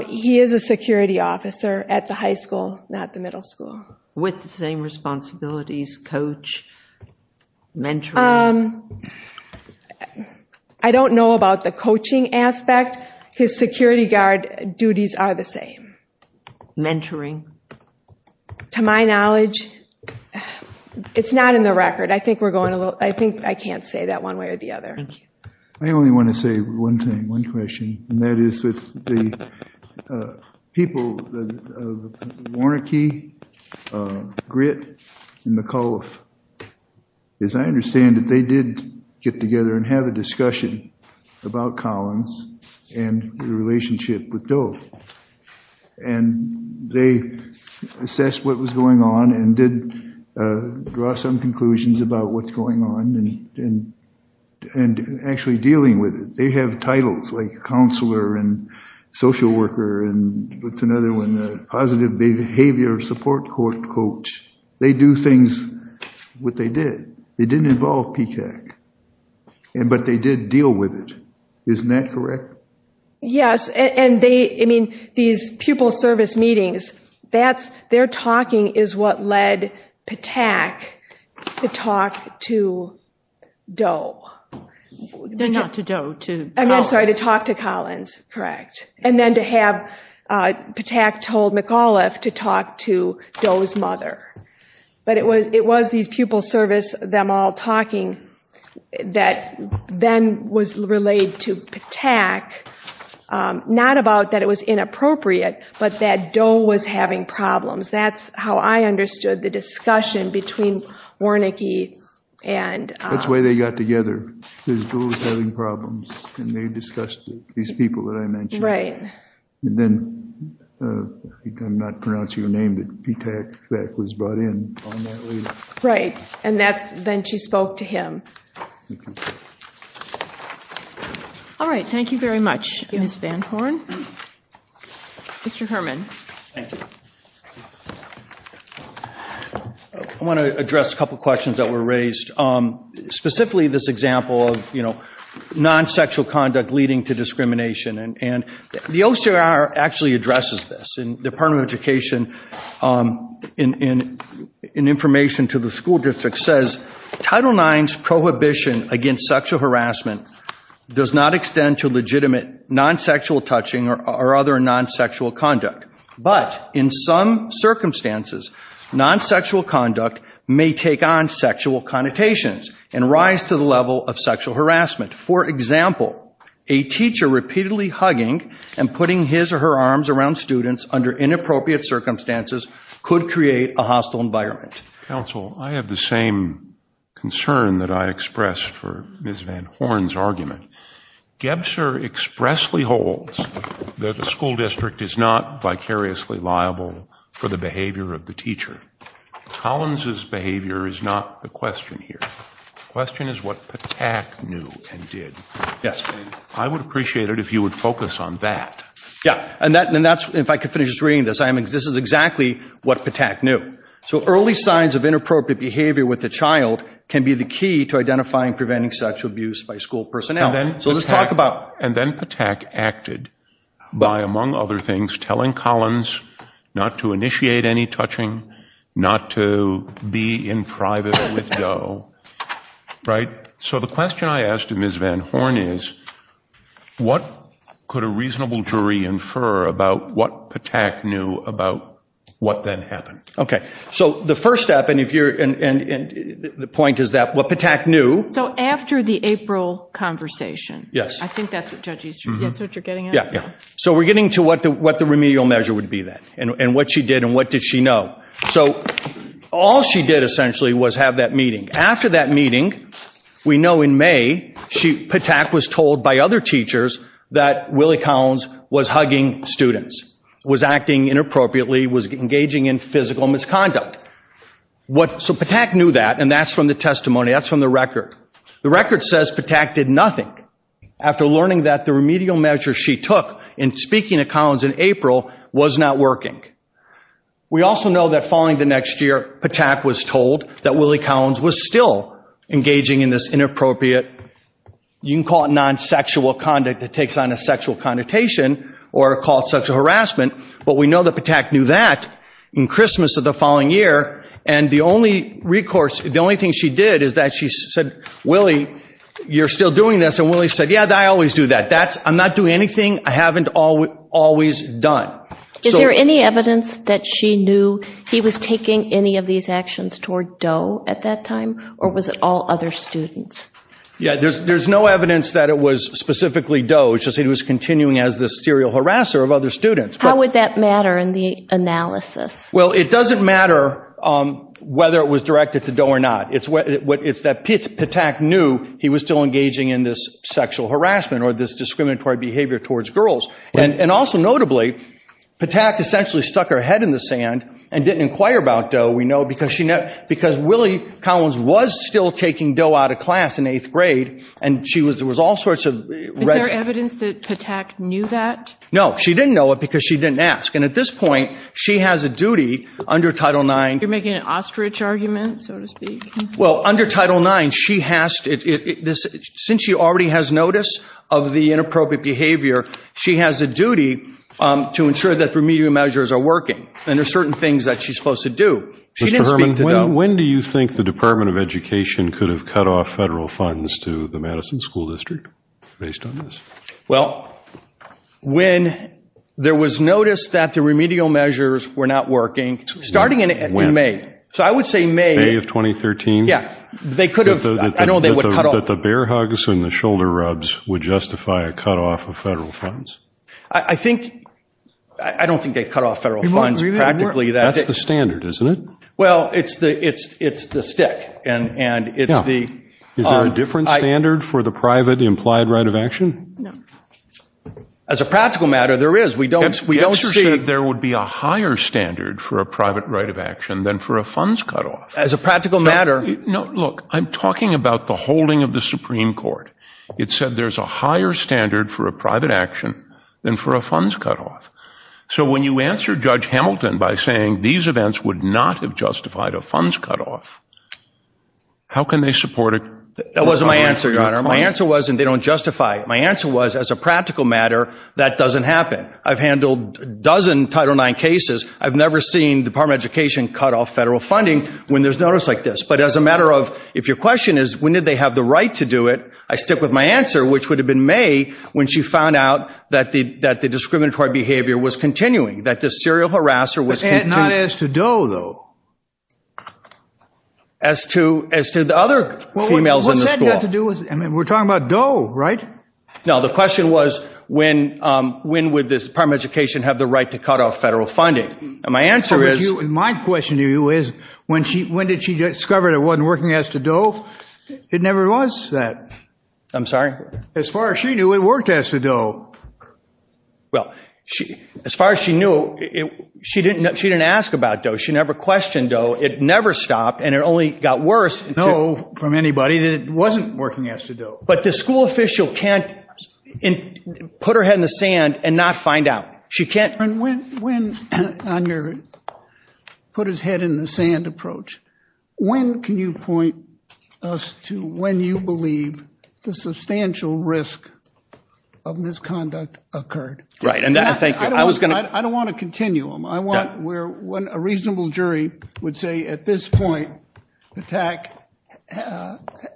He is a security officer at the high school, not the middle school. With the same responsibilities, coach, mentor? I don't know about the coaching aspect. His security guard duties are the same. Mentoring? To my knowledge, it's not in the record. I think we're going a little... I think I can't say that one way or the other. I only want to say one thing, one question, and that is with the people of Warnakey, Grit, and McAuliffe. As I understand it, they did get together and have a discussion about Collins and the relationship with Dole. And they assessed what was going on and did draw some conclusions about what's going on. And actually dealing with it. They have titles like counselor and social worker, and what's another one? Positive behavior support coach. They do things what they did. They didn't involve PTAC. But they did deal with it. Isn't that correct? Yes. And these pupil service meetings, their talking is what led PTAC to talk to Dole. Not to Dole. I'm sorry, to talk to Collins. Correct. And then to have PTAC told McAuliffe to talk to Dole's mother. But it was these pupil service, them all talking, that then was relayed to PTAC. Not about that it was inappropriate, but that Dole was having problems. That's how I understood the discussion between Warnakey and... That's why they got together, because Dole was having problems. And they discussed these people that I mentioned. And then, I think I'm not pronouncing your name, but PTAC was brought in. Right. And then she spoke to him. All right. Thank you very much, Ms. Van Horn. Mr. Herman. I want to address a couple of questions that were raised. Specifically, this example of non-sexual conduct leading to discrimination. And the OCR actually addresses this. The Department of Education, in information to the school district, says, Title IX's prohibition against sexual harassment does not extend to legitimate non-sexual touching or other non-sexual conduct. But, in some circumstances, non-sexual conduct may take on sexual connotations and rise to the level of sexual harassment. For example, a teacher repeatedly hugging and putting his or her arms around students under inappropriate circumstances could create a hostile environment. Counsel, I have the same concern that I expressed for Ms. Van Horn's argument. Gebser expressly holds that the school district is not vicariously liable for the behavior of the teacher. Collins' behavior is not the question here. The question is what PTAC knew and did. Yes. I would appreciate it if you would focus on that. Yeah. And that's, if I could finish reading this, this is exactly what PTAC knew. So, early signs of inappropriate behavior with a child can be the key to identifying preventing sexual abuse by school personnel. So, let's talk about, and then PTAC acted by, among other things, telling Collins not to initiate any touching, not to be in private with Donald, right? So, the question I ask to Ms. Van Horn is, what could a reasonable jury infer about what PTAC knew about what then happened? Okay. So, the first step, and if you're, and the point is that what PTAC knew. So, after the April conversation. Yes. I think that's what judges, that's what you're getting at? Yeah, yeah. So, we're getting to what the remedial measure would be then, and what she did and what did she know. So, all she did essentially was have that meeting. After that meeting, we know in May, PTAC was told by other teachers that Willie Collins was hugging students, was acting inappropriately, was engaging in physical misconduct. So, PTAC knew that, and that's from the testimony, that's from the record. The record says PTAC did nothing. After learning that, the remedial measure she took in speaking at Collins in April was not working. We also know that following the next year, PTAC was told that Willie Collins was still engaging in this inappropriate, you can call it non-sexual conduct that takes on a sexual connotation, or called sexual harassment. But we know that PTAC knew that in Christmas of the following year. And the only recourse, the only thing she did is that she said, Willie, you're still doing this. And Willie said, yeah, I always do that. I'm not doing anything I haven't always done. Is there any evidence that she knew he was taking any of these actions toward Doe at that time, or was it all other students? Yeah, there's no evidence that it was specifically Doe. It's just that he was continuing as the serial harasser of other students. How would that matter in the analysis? Well, it doesn't matter whether it was directed to Doe or not. It's that PTAC knew he was still engaging in this sexual harassment or this discriminatory behavior towards girls. And also notably, PTAC essentially stuck her head in the sand and didn't inquire about Doe. We know because Willie Collins was still taking Doe out of class in eighth grade, and she was all sorts of... Is there evidence that PTAC knew that? No, she didn't know it because she didn't ask. And at this point, she has a duty under Title IX... You're making an ostrich argument, so to speak? Well, under Title IX, since she already has notice of the inappropriate behavior, she has a duty to ensure that remedial measures are working. And there's certain things that she's supposed to do. When do you think the Department of Education could have cut off federal funds to the Madison School District based on this? Well, when there was notice that the remedial measures were not working, starting in May. So I would say May... May of 2013? Yeah. They could have... That the bear hugs and the shoulder rubs would justify a cutoff of federal funds? I think... I don't think they cut off federal funds practically... That's the standard, isn't it? Well, it's the stick, and it's the... Is there a different standard for the private implied right of action? No. As a practical matter, there is. We don't see... But you said there would be a higher standard for a private right of action than for a funds cutoff. As a practical matter... No, look, I'm talking about the holding of the Supreme Court. It said there's a higher standard for a private action than for a funds cutoff. So when you answer Judge Hamilton by saying these events would not have justified a funds cutoff, how can they support it? That wasn't my answer, Your Honor. My answer wasn't they don't justify it. My answer was, as a practical matter, that doesn't happen. I've handled a dozen Title IX cases. I've never seen the Department of Education cut off federal funding when there's notice like this. But as a matter of... If your question is, when did they have the right to do it? I stick with my answer, which would have been May, when she found out that the discriminatory behavior was continuing. That this serial harasser was continuing. But not as to Doe, though. As to the other females in the school. We're talking about Doe, right? No, the question was, when would the Department of Education have the right to cut off federal funding? And my answer is... My question to you is, when did she discover it wasn't working as to Doe? It never was that. I'm sorry? As far as she knew, it worked as to Doe. Well, as far as she knew, she didn't ask about Doe. She never questioned Doe. It never stopped, and it only got worse. No, from anybody. It wasn't working as to Doe. But the school official can't put her head in the sand and not find out. She can't... When, on your put-his-head-in-the-sand approach, when can you point us to when you believe the substantial risk of misconduct occurred? Right. I don't want a continuum. I want where a reasonable jury would say, at this point, Patak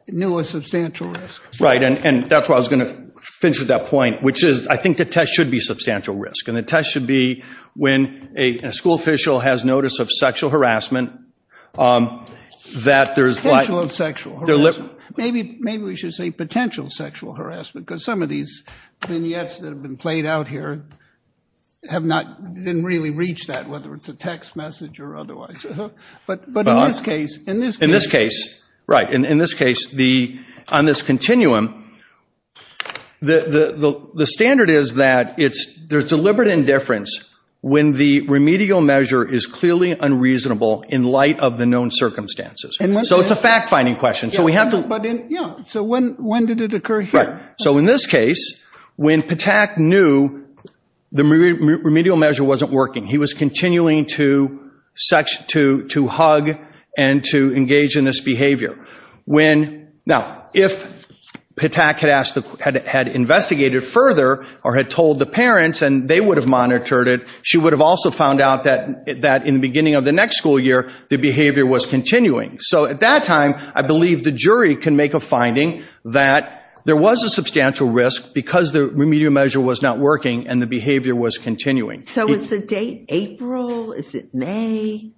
knew a substantial risk. Right, and that's why I was going to finish at that point, which is, I think the test should be substantial risk. And the test should be when a school official has notice of sexual harassment that there is... Potential sexual harassment. Maybe we should say potential sexual harassment, because some of these vignettes that have been played out here didn't really reach that, whether it's a text message or otherwise. But in this case... In this case, right. In this case, on this continuum, the standard is that there's deliberate indifference when the remedial measure is clearly unreasonable in light of the known circumstances. So it's a fact-finding question. So we have to... But in... Yeah. So when did it occur here? Right. So in this case, when Patak knew the remedial measure wasn't working, he was continuing to hug and to engage in this behavior. Now, if Patak had investigated further or had told the parents and they would have monitored it, she would have also found out that in the beginning of the next school year, the behavior was continuing. So at that time, I believe the jury can make a finding that there was a substantial risk because the remedial measure was not working and the behavior was continuing. So is the date April? Is it May?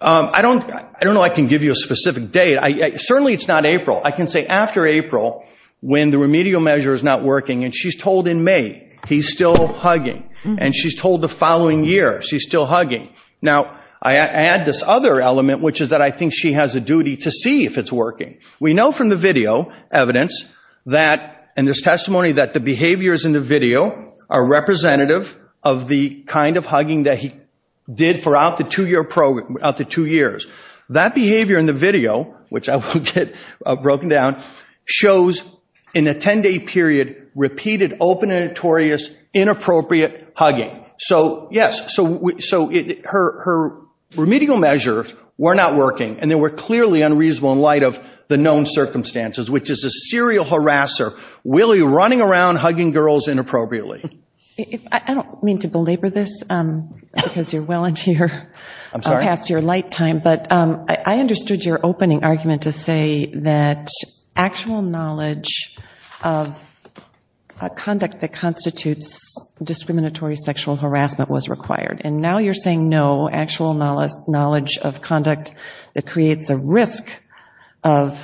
I don't know I can give you a specific date. Certainly it's not April. I can say after April, when the remedial measure is not working, and she's told in May, he's still hugging. And she's told the following year, she's still hugging. Now, I add this other element, which is that I think she has a duty to see if it's working. We know from the video evidence that... And there's testimony that the behaviors in the video are representative of the kind of hugging that he did throughout the two-year program... Out the two years. That behavior in the video, which I will get broken down, shows in a 10-day period repeated open and notorious inappropriate hugging. So, yes, so her remedial measure were not working and they were clearly unreasonable in light of the known circumstances, which is a serial harasser really running around hugging girls inappropriately. I don't mean to belabor this because you're well into your past year light time, but I understood your opening argument to say that actual knowledge of conduct that constitutes discriminatory sexual harassment was required. And now you're saying no, actual knowledge of conduct that creates a risk of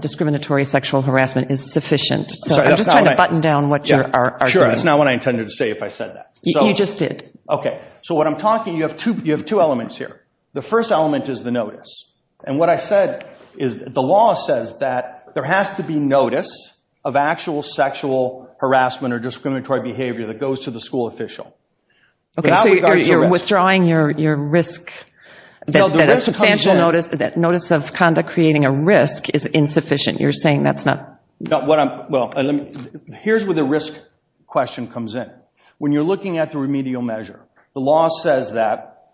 discriminatory sexual harassment is sufficient. I'm just trying to button down what you're arguing. Sure, that's not what I intended to say if I said that. You just did. Okay, so what I'm talking, you have two elements here. The first element is the notice. And what I said is the law says that there has to be notice of actual sexual harassment or discriminatory behavior that goes to the school official. Okay, so you're withdrawing your risk. The substantial notice of conduct creating a risk is insufficient. You're saying that's not... Well, here's where the risk question comes in. When you're looking at the remedial measure, the law says that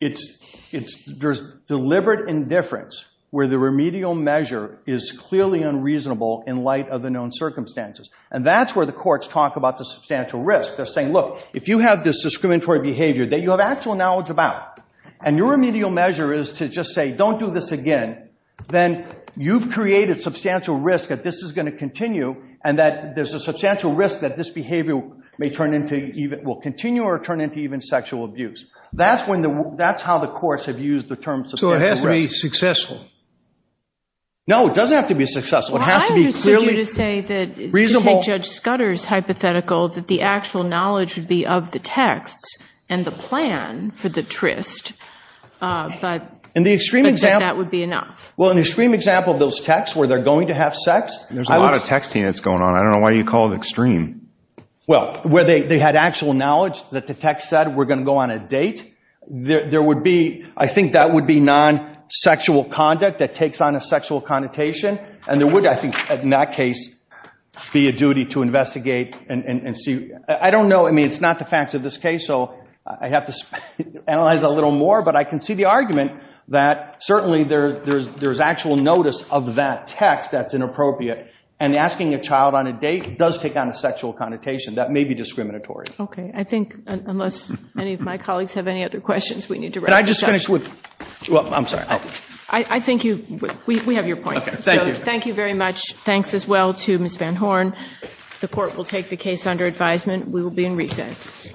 there's deliberate indifference where the remedial measure is clearly unreasonable in light of the known circumstances. And that's where the courts talk about the substantial risk. They're saying, look, if you have this discriminatory behavior that you have actual knowledge about and your remedial measure is to just say don't do this again, then you've created substantial risk that this is going to continue and that there's a substantial risk that this behavior will continue or turn into even sexual abuse. That's how the courts have used the term substantial risk. So it has to be successful. No, it doesn't have to be successful. It has to be clearly reasonable. I would say that Judge Scudder's hypothetical that the actual knowledge would be of the text and the plan for the tryst. But I think that would be enough. Well, an extreme example of those texts where they're going to have sex... There's a lot of texting that's going on. I don't know why you call it extreme. Well, where they had actual knowledge that the text said we're going to go on a date. I think that would be non-sexual conduct that takes on a sexual connotation. And there would, I think, in that case, be a duty to investigate and see. I don't know. I mean, it's not the facts of this case, so I'd have to analyze a little more. But I can see the argument that certainly there's actual notice of that text that's inappropriate. And asking a child on a date does take on a sexual connotation. That may be discriminatory. Okay. I think unless any of my colleagues have any other questions, we need to wrap this up. Can I just finish with... Well, I'm sorry. I think you... We have your point. Okay. Thank you. Thank you very much. Thanks as well to Ms. Van Horn. The court will take the case under advisement. We will be in recess.